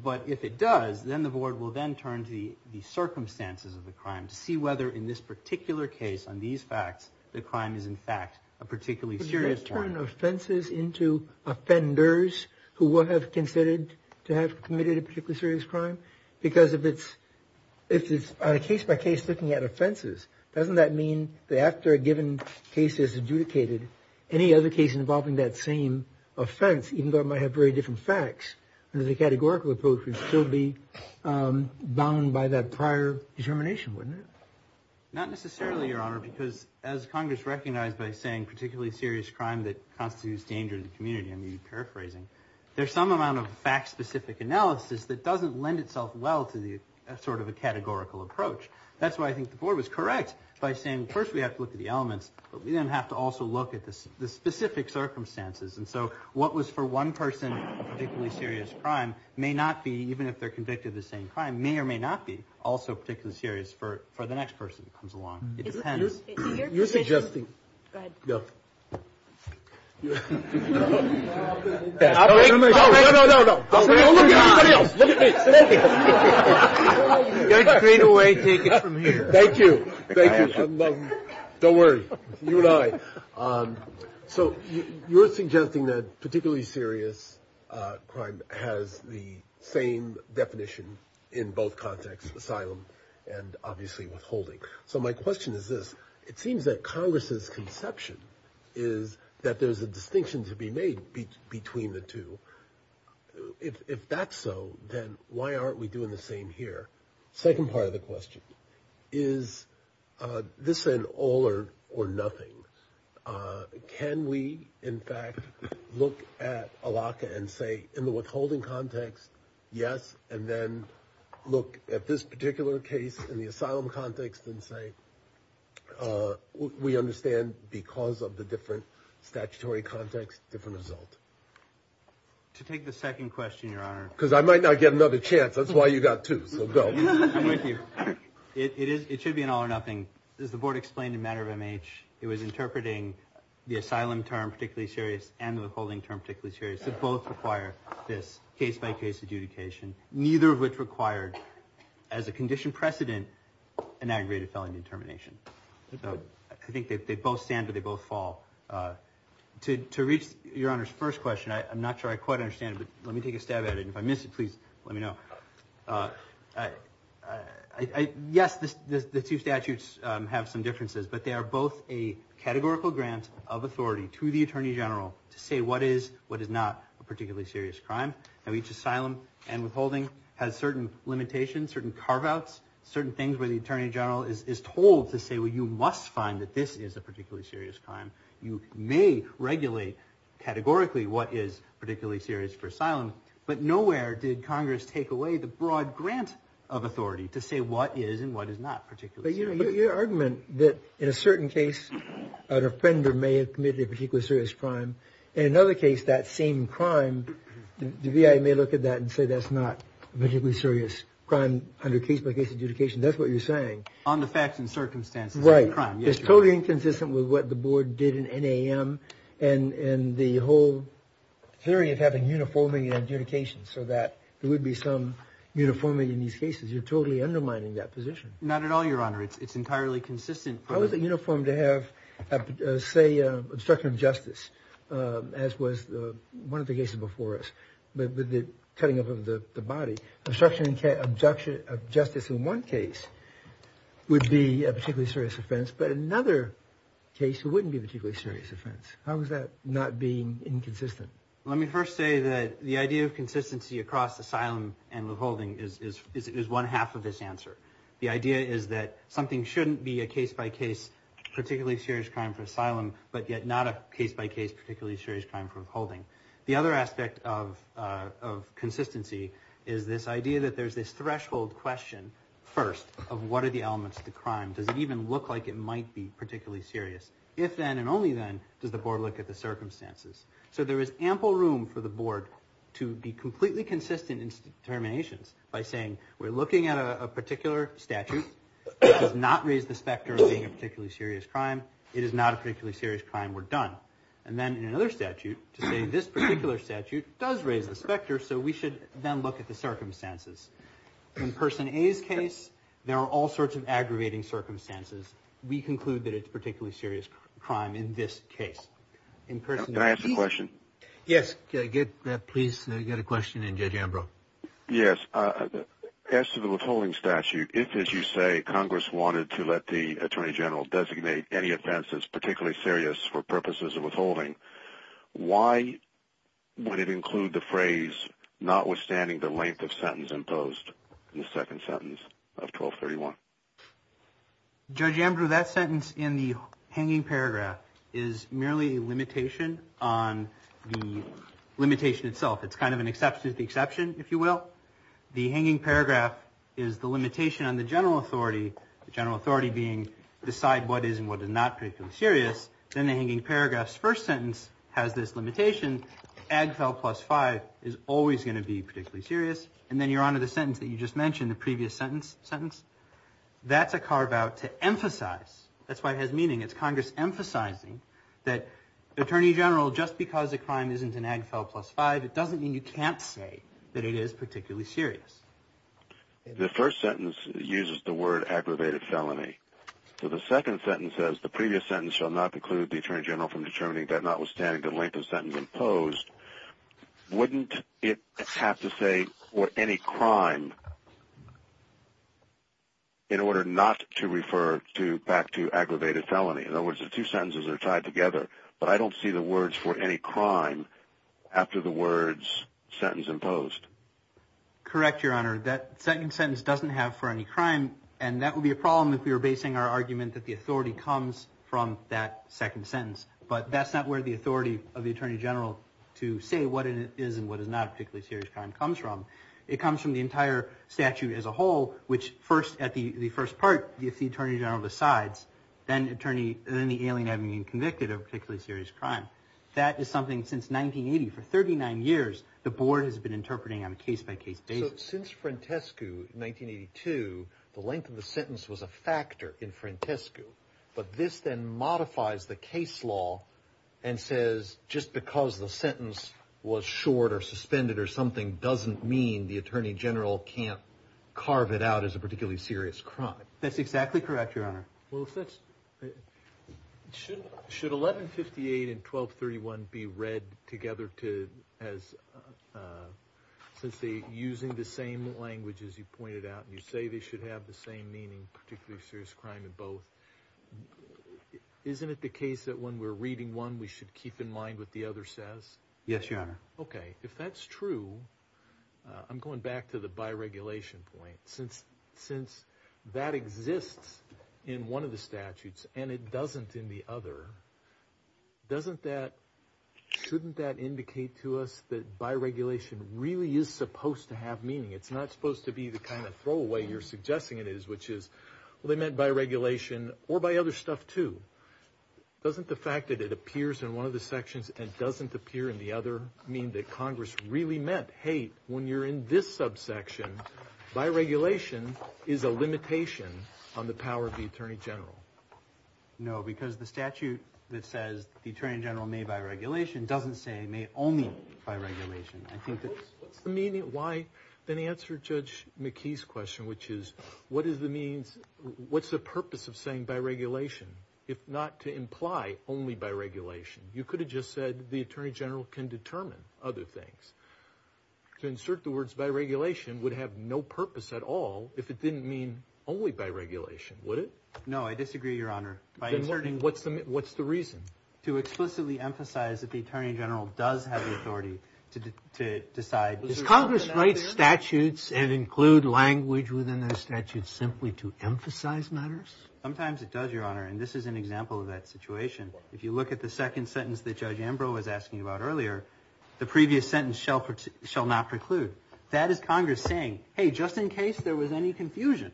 But if it does, then the board will then turn to the circumstances of the crime to see whether in this particular case on these facts the crime is in fact a particularly serious crime. But you're going to turn offenses into offenders who would have considered to have committed a particularly serious crime? Because if it's case-by-case looking at offenses, doesn't that mean that after a given case is adjudicated, any other case involving that same offense, even though it might have very different facts, there's a categorical approach would still be bound by that prior determination, wouldn't it? Not necessarily, Your Honor, because as Congress recognized by saying particularly serious crime that constitutes danger to the community, I'm paraphrasing, there's some amount of fact-specific analysis that doesn't lend itself well to sort of a categorical approach. That's why I think the board was correct by saying first we have to look at the elements, but we then have to also look at the specific circumstances. And so what was for one person a particularly serious crime may not be, even if they're convicted of the same crime, may or may not be also particularly serious for the next person who comes along. It depends. You're suggesting. Go ahead. No. No, no, no, no, no, no. Look at everybody else. Look at me. You're straightaway taken from here. Thank you. Thank you. Don't worry. You and I. So you're suggesting that particularly serious crime has the same definition in both contexts, asylum and obviously withholding. So my question is this. It seems that Congress's conception is that there's a distinction to be made between the two. If that's so, then why aren't we doing the same here? Second part of the question. Is this an all or nothing? Can we, in fact, look at a lock and say in the withholding context, yes, and then look at this particular case in the asylum context and say we understand because of the different statutory context, different result. To take the second question, Your Honor. Because I might not get another chance. That's why you got two. So go. I'm with you. It should be an all or nothing. As the board explained in matter of MH, it was interpreting the asylum term particularly serious and the withholding term particularly serious. They both require this case-by-case adjudication, neither of which required as a condition precedent an aggravated felony determination. So I think they both stand, but they both fall. To reach Your Honor's first question, I'm not sure I quite understand it, but let me take a stab at it. If I miss it, please let me know. Yes, the two statutes have some differences, but they are both a categorical grant of authority to the attorney general to say what is, what is not a particularly serious crime. Now, each asylum and withholding has certain limitations, certain carve-outs, certain things where the attorney general is told to say, well, you must find that this is a particularly serious crime. You may regulate categorically what is particularly serious for asylum, but nowhere did Congress take away the broad grant of authority to say what is and what is not particularly serious. But your argument that in a certain case, an offender may have committed a particularly serious crime. In another case, that same crime, the VA may look at that and say that's not a particularly serious crime under case-by-case adjudication. That's what you're saying. On the facts and circumstances. Right. It's totally inconsistent with what the board did in NAM and the whole theory of having uniforming adjudication so that there would be some uniformity in these cases. You're totally undermining that position. Not at all, Your Honor. It's entirely consistent. How is it uniform to have, say, obstruction of justice, as was one of the cases before us with the cutting of the body? Obstruction of justice in one case would be a particularly serious offense, but in another case, it wouldn't be a particularly serious offense. How is that not being inconsistent? Let me first say that the idea of consistency across asylum and withholding is one half of this answer. The idea is that something shouldn't be a case-by-case particularly serious crime for asylum, but yet not a case-by-case particularly serious crime for withholding. The other aspect of consistency is this idea that there's this threshold question, first, of what are the elements of the crime. Does it even look like it might be particularly serious? If then and only then does the board look at the circumstances. So there is ample room for the board to be completely consistent in its determinations by saying we're looking at a particular statute that does not raise the specter of being a particularly serious crime. It is not a particularly serious crime. We're done. And then in another statute, to say this particular statute does raise the specter, so we should then look at the circumstances. In Person A's case, there are all sorts of aggravating circumstances. We conclude that it's a particularly serious crime in this case. Can I ask a question? Yes. Please get a question in, Judge Ambrose. Yes. As to the withholding statute, if, as you say, Congress wanted to let the Attorney General designate any offense that's particularly serious for purposes of withholding, why would it include the phrase, notwithstanding the length of sentence imposed in the second sentence of 1231? Judge Ambrose, that sentence in the hanging paragraph is merely a limitation on the limitation itself. It's kind of an exception to the exception, if you will. The hanging paragraph is the limitation on the general authority, the general authority being decide what is and what is not particularly serious. Then the hanging paragraph's first sentence has this limitation, AGFEL plus 5 is always going to be particularly serious. And then you're on to the sentence that you just mentioned, the previous sentence. That's a carve-out to emphasize. That's why it has meaning. It's Congress emphasizing that Attorney General, just because a crime isn't in AGFEL plus 5, it doesn't mean you can't say that it is particularly serious. The first sentence uses the word aggravated felony. So the second sentence says, the previous sentence shall not preclude the Attorney General from determining that notwithstanding the length of sentence imposed, wouldn't it have to say, or any crime, in order not to refer back to aggravated felony? In other words, the two sentences are tied together. But I don't see the words for any crime after the words sentence imposed. Correct, Your Honor. That second sentence doesn't have for any crime, and that would be a problem if we were basing our argument that the authority comes from that second sentence. But that's not where the authority of the Attorney General to say what it is and what is not a particularly serious crime comes from. It comes from the entire statute as a whole, which at the first part, if the Attorney General decides, then the alien having been convicted of a particularly serious crime. That is something, since 1980, for 39 years, the Board has been interpreting on a case-by-case basis. Since Frantescu, 1982, the length of the sentence was a factor in Frantescu. But this then modifies the case law and says, just because the sentence was short or suspended or something, doesn't mean the Attorney General can't carve it out as a particularly serious crime. That's exactly correct, Your Honor. Well, if that's—should 1158 and 1231 be read together as— since they're using the same language, as you pointed out, and you say they should have the same meaning, particularly serious crime, in both, isn't it the case that when we're reading one, we should keep in mind what the other says? Yes, Your Honor. Okay. If that's true, I'm going back to the bi-regulation point. Since that exists in one of the statutes and it doesn't in the other, doesn't that—shouldn't that indicate to us that bi-regulation really is supposed to have meaning? It's not supposed to be the kind of throwaway you're suggesting it is, which is, well, they meant bi-regulation or by other stuff, too. Doesn't the fact that it appears in one of the sections and doesn't appear in the other mean that Congress really meant, hey, when you're in this subsection, bi-regulation is a limitation on the power of the attorney general? No, because the statute that says the attorney general may bi-regulation doesn't say may only bi-regulation. I think that— What's the meaning—why—then answer Judge McKee's question, which is, what is the means—what's the purpose of saying bi-regulation, if not to imply only bi-regulation? You could have just said the attorney general can determine other things. To insert the words bi-regulation would have no purpose at all if it didn't mean only bi-regulation, would it? No, I disagree, Your Honor. What's the reason? To explicitly emphasize that the attorney general does have the authority to decide— Does Congress write statutes and include language within those statutes simply to emphasize matters? Sometimes it does, Your Honor, and this is an example of that situation. If you look at the second sentence that Judge Ambrose was asking about earlier, the previous sentence shall not preclude. That is Congress saying, hey, just in case there was any confusion,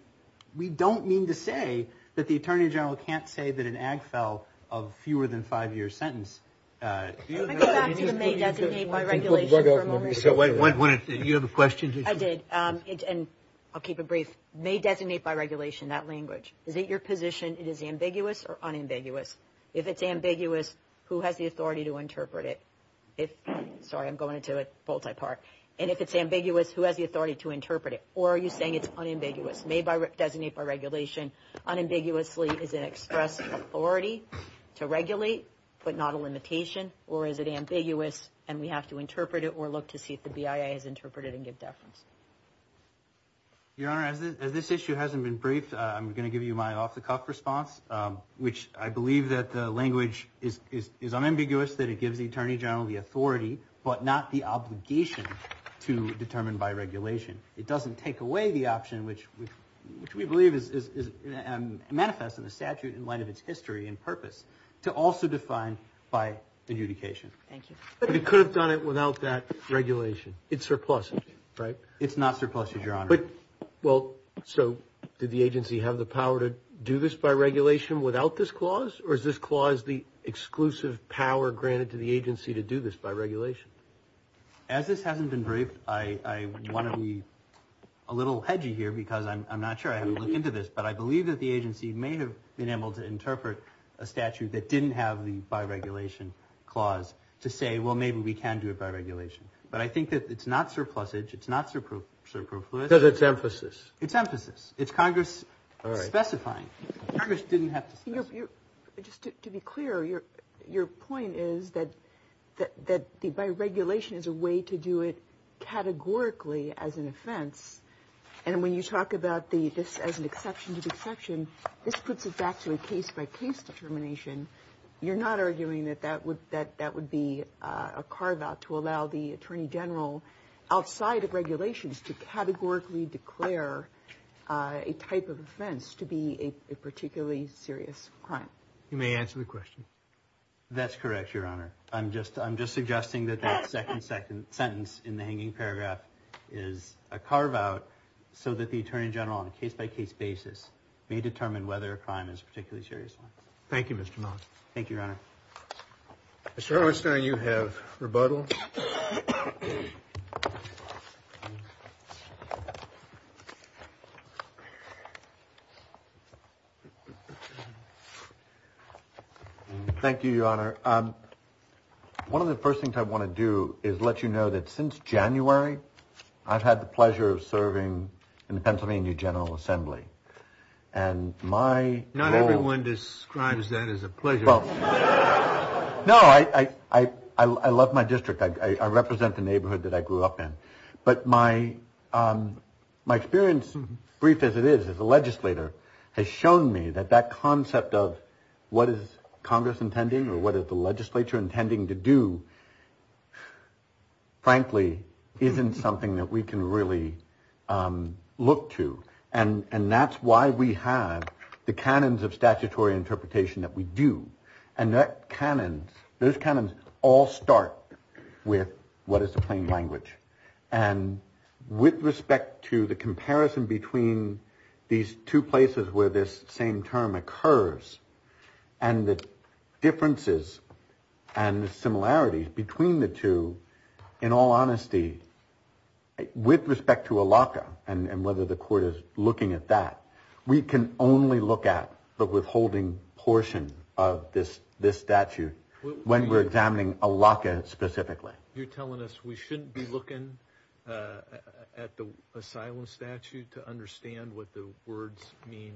we don't mean to say that the attorney general can't say that an Agfel of fewer than five years sentence— Let me go back to the may designate by regulation for a moment. You have a question? I did, and I'll keep it brief. May designate by regulation, that language. Is it your position it is ambiguous or unambiguous? If it's ambiguous, who has the authority to interpret it? Sorry, I'm going into it multi-part. And if it's ambiguous, who has the authority to interpret it? Or are you saying it's unambiguous? May designate by regulation unambiguously is an express authority to regulate but not a limitation, or is it ambiguous and we have to interpret it or look to see if the BIA has interpreted it and give deference? Your Honor, as this issue hasn't been briefed, I'm going to give you my off-the-cuff response, which I believe that the language is unambiguous, that it gives the Attorney General the authority but not the obligation to determine by regulation. It doesn't take away the option, which we believe manifests in the statute in light of its history and purpose, to also define by adjudication. Thank you. But it could have done it without that regulation. It's surplusage, right? It's not surplusage, Your Honor. Well, so did the agency have the power to do this by regulation without this clause, or is this clause the exclusive power granted to the agency to do this by regulation? As this hasn't been briefed, I want to be a little hedgy here because I'm not sure I haven't looked into this, but I believe that the agency may have been able to interpret a statute that didn't have the by regulation clause to say, well, maybe we can do it by regulation. But I think that it's not surplusage, it's not surplusage. Because it's emphasis. It's emphasis. It's Congress specifying. Congress didn't have to specify. Just to be clear, your point is that by regulation is a way to do it categorically as an offense. And when you talk about this as an exception to the exception, this puts it back to a case-by-case determination. You're not arguing that that would be a carve-out to allow the attorney general, outside of regulations, to categorically declare a type of offense to be a particularly serious crime. You may answer the question. That's correct, Your Honor. I'm just suggesting that that second sentence in the hanging paragraph is a carve-out so that the attorney general, on a case-by-case basis, may determine whether a crime is a particularly serious one. Thank you, Your Honor. Mr. Erwinstein, you have rebuttal. Thank you, Your Honor. One of the first things I want to do is let you know that since January, I've had the pleasure of serving in the Pennsylvania General Assembly. And my goal... No, I love my district. I represent the neighborhood that I grew up in. But my experience, brief as it is, as a legislator, has shown me that that concept of what is Congress intending or what is the legislature intending to do, frankly, isn't something that we can really look to. And that's why we have the canons of statutory interpretation that we do. And those canons all start with what is the plain language. And with respect to the comparison between these two places where this same term occurs and the differences and the similarities between the two, in all honesty, with respect to a locker and whether the court is looking at that, we can only look at the withholding portion of this statute when we're examining a locker specifically. You're telling us we shouldn't be looking at the asylum statute to understand what the words mean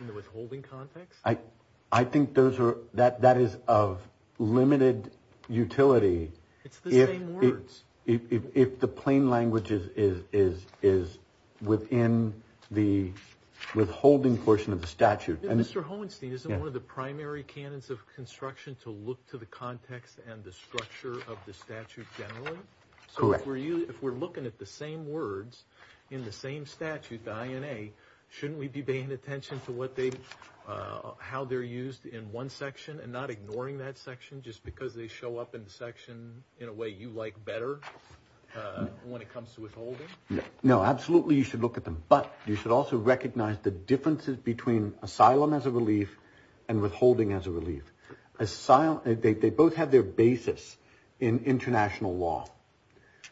in the withholding context? I think that is of limited utility... It's the same words. If the plain language is within the withholding portion of the statute... Mr. Hohenstein, isn't one of the primary canons of construction to look to the context and the structure of the statute generally? Correct. So if we're looking at the same words in the same statute, the INA, shouldn't we be paying attention to how they're used in one section and not ignoring that section just because they show up in the section in a way you like better when it comes to withholding? No, absolutely you should look at them. But you should also recognize the differences between asylum as a relief and withholding as a relief. They both have their basis in international law.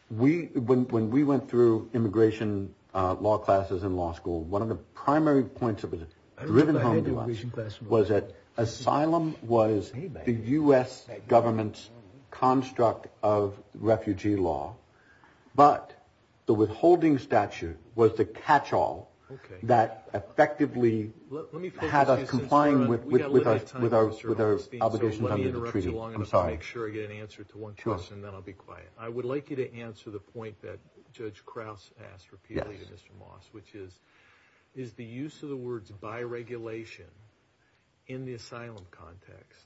When we went through immigration law classes in law school, one of the primary points that was driven home to us was that asylum was the U.S. government's construct of refugee law, but the withholding statute was the catch-all that effectively had us complying with our obligations under the treaty. Let me interrupt you long enough to make sure I get an answer to one question, then I'll be quiet. I would like you to answer the point that Judge Krauss asked repeatedly to Mr. Moss, which is, is the use of the words by regulation in the asylum context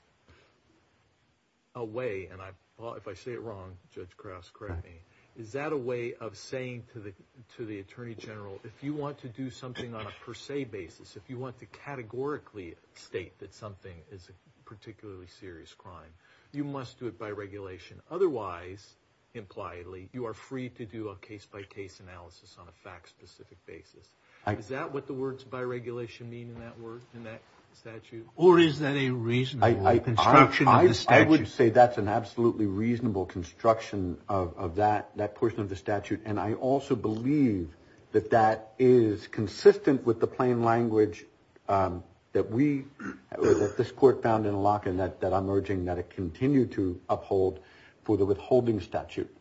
a way, and if I say it wrong, Judge Krauss, correct me, is that a way of saying to the Attorney General if you want to do something on a per se basis, if you want to categorically state that something is a particularly serious crime, you must do it by regulation. Otherwise, impliedly, you are free to do a case-by-case analysis on a fact-specific basis. Is that what the words by regulation mean in that statute? Or is that a reasonable construction of the statute? I would say that's an absolutely reasonable construction of that portion of the statute, and I also believe that that is consistent with the plain language that we, that this court found in Locken that I'm urging that it continue to uphold for the withholding statute,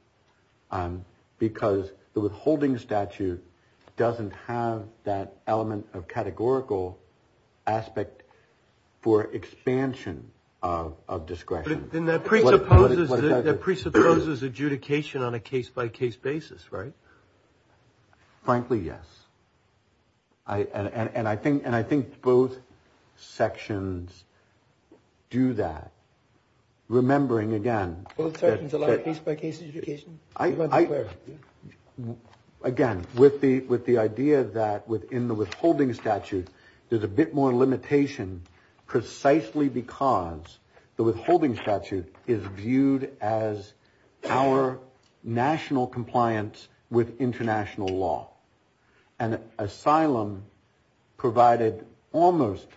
because the withholding statute doesn't have that element of categorical aspect for expansion of discretion. Then that presupposes adjudication on a case-by-case basis, right? Frankly, yes. And I think both sections do that. Remembering, again... Both sections allow case-by-case adjudication? Again, with the idea that within the withholding statute, there's a bit more limitation precisely because the withholding statute is viewed as our national compliance with international law. And asylum provided almost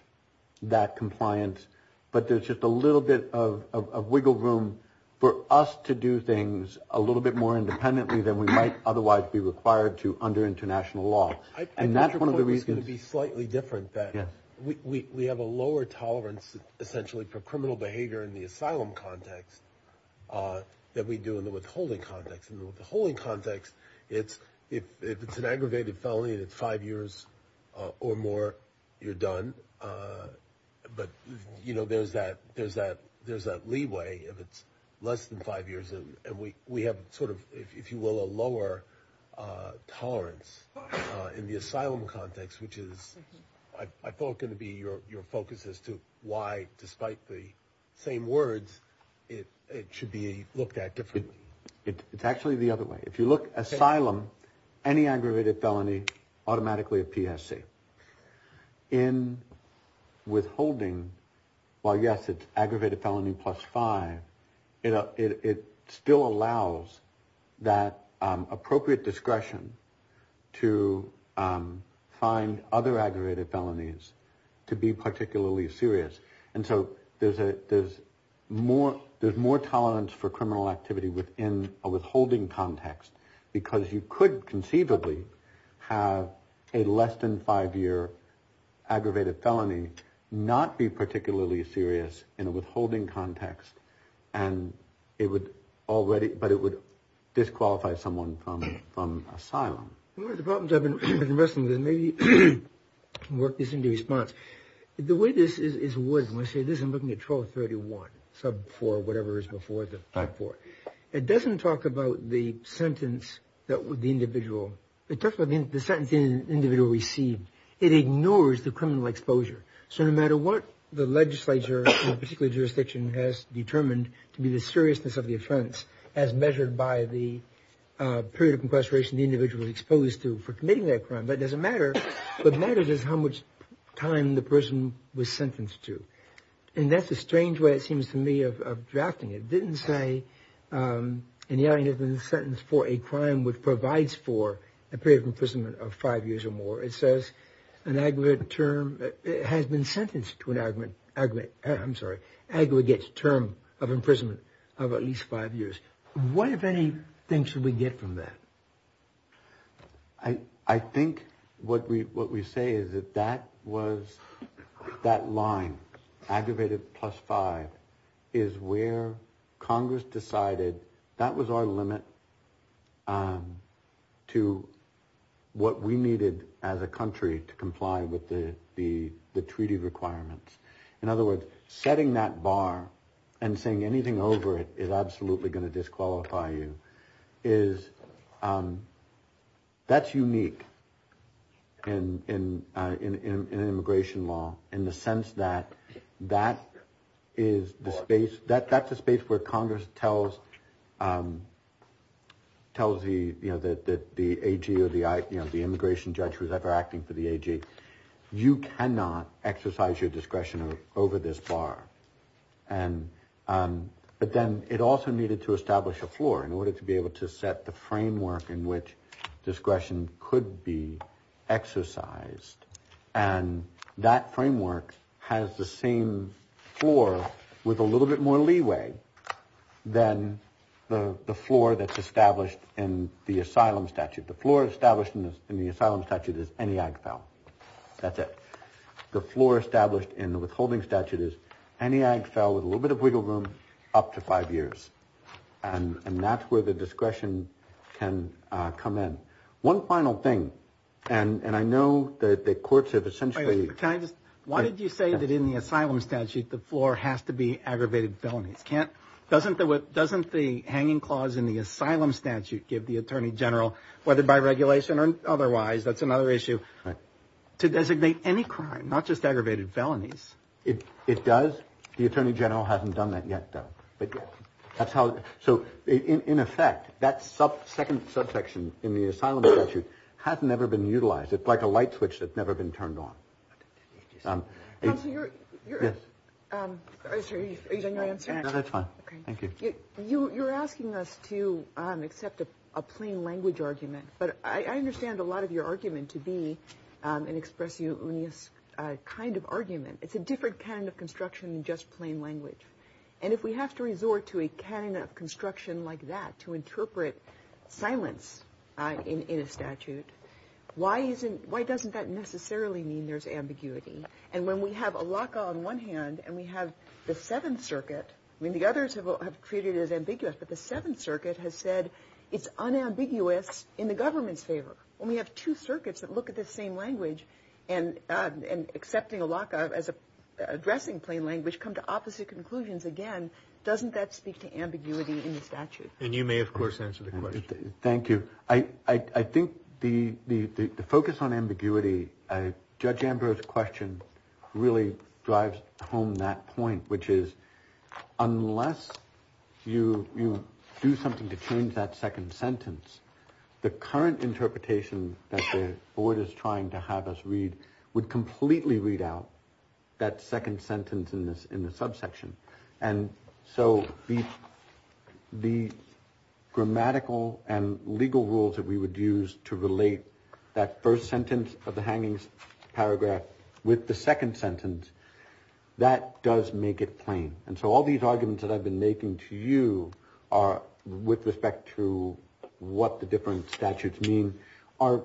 that compliance, but there's just a little bit of wiggle room for us to do things a little bit more independently than we might otherwise be required to under international law. And that's one of the reasons... I think your point was going to be slightly different, that we have a lower tolerance essentially for criminal behavior in the asylum context than we do in the withholding context. In the withholding context, if it's an aggravated felony and it's five years or more, you're done. But there's that leeway if it's less than five years. And we have sort of, if you will, a lower tolerance in the asylum context, which is, I thought, going to be your focus as to why, despite the same words, it should be looked at differently. It's actually the other way. If you look asylum, any aggravated felony, automatically a PSA. In withholding, while, yes, it's aggravated felony plus five, it still allows that appropriate discretion to find other aggravated felonies to be particularly serious. And so there's more tolerance for criminal activity within a withholding context because you could conceivably have a less than five-year aggravated felony not be particularly serious in a withholding context and it would already, but it would disqualify someone from asylum. One of the problems I've been wrestling with is maybe work this into response. The way this is, when I say this, I'm looking at 1231, sub 4, whatever is before the 5-4. It doesn't talk about the sentence that the individual, it talks about the sentence the individual received. It ignores the criminal exposure. So no matter what the legislature, in a particular jurisdiction, has determined to be the seriousness of the offense, as measured by the period of incarceration the individual is exposed to for committing that crime, that doesn't matter. What matters is how much time the person was sentenced to. And that's a strange way, it seems to me, of drafting it. It didn't say anybody has been sentenced for a crime which provides for a period of imprisonment of five years or more. It says an aggregate term has been sentenced to an aggregate term of imprisonment of at least five years. What, if anything, should we get from that? I think what we say is that that was, that line, aggravated plus five, is where Congress decided that was our limit to what we needed as a country to comply with the treaty requirements. In other words, setting that bar and saying anything over it is absolutely going to disqualify you. That's unique in immigration law in the sense that that is the space, that's the space where Congress tells the AG or the immigration judge who is ever acting for the AG, you cannot exercise your discretion over this bar. But then it also needed to establish a floor in order to be able to set the framework in which discretion could be exercised. And that framework has the same floor with a little bit more leeway than the floor that's established in the asylum statute. The floor established in the asylum statute is any AG fell. That's it. The floor established in the withholding statute is any AG fell with a little bit of wiggle room up to five years. And that's where the discretion can come in. One final thing, and I know that the courts have essentially. Can I just, why did you say that in the asylum statute the floor has to be aggravated felonies? Can't, doesn't the hanging clause in the asylum statute give the attorney general, whether by regulation or otherwise, that's another issue, to designate any crime, not just aggravated felonies. It does. The attorney general hasn't done that yet. But that's how. So, in effect, that sub second subsection in the asylum statute has never been utilized. It's like a light switch that's never been turned on. So you're. Yes. That's fine. Thank you. You're asking us to accept a plain language argument. But I understand a lot of your argument to be an expression of this kind of argument. It's a different kind of construction, just plain language. And if we have to resort to a kind of construction like that to interpret silence in a statute, why isn't why doesn't that necessarily mean there's ambiguity? And when we have a lock on one hand and we have the Seventh Circuit, I mean, the others have treated as ambiguous. But the Seventh Circuit has said it's unambiguous in the government's favor. When we have two circuits that look at the same language and and accepting a lockup as addressing plain language, come to opposite conclusions again. Doesn't that speak to ambiguity in the statute? And you may, of course, answer the question. Thank you. I think the focus on ambiguity, Judge Amber's question really drives home that point, which is unless you do something to change that second sentence, the current interpretation that the board is trying to have us read would completely read out that second sentence in this in the subsection. And so the the grammatical and legal rules that we would use to relate that first sentence of the hangings paragraph with the second sentence, that does make it plain. And so all these arguments that I've been making to you are with respect to what the different statutes mean are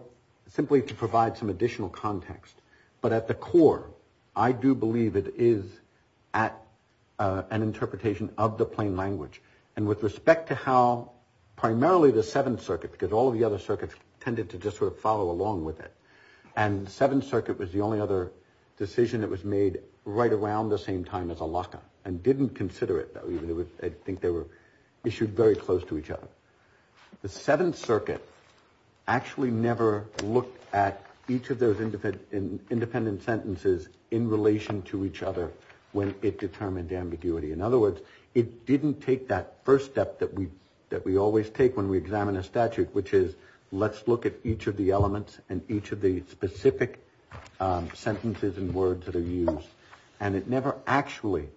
simply to provide some additional context. But at the core, I do believe it is at an interpretation of the plain language. And with respect to how primarily the Seventh Circuit, because all of the other circuits tended to just sort of follow along with it. And Seventh Circuit was the only other decision that was made right around the same time as a lockup and didn't consider it. I think they were issued very close to each other. The Seventh Circuit actually never looked at each of those independent sentences in relation to each other when it determined ambiguity. In other words, it didn't take that first step that we that we always take when we examine a statute, which is let's look at each of the elements and each of the specific sentences and words that are used. And it never actually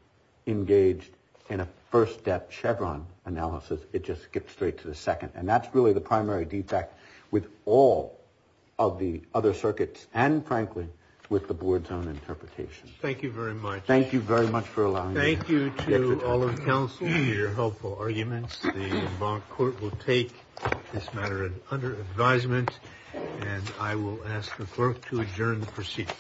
engaged in a first step Chevron analysis. It just gets straight to the second. And that's really the primary defect with all of the other circuits and frankly, with the board's own interpretation. Thank you very much. Thank you very much for allowing. Thank you to all of the council for your helpful arguments. The court will take this matter under advisement and I will ask the clerk to adjourn the proceedings.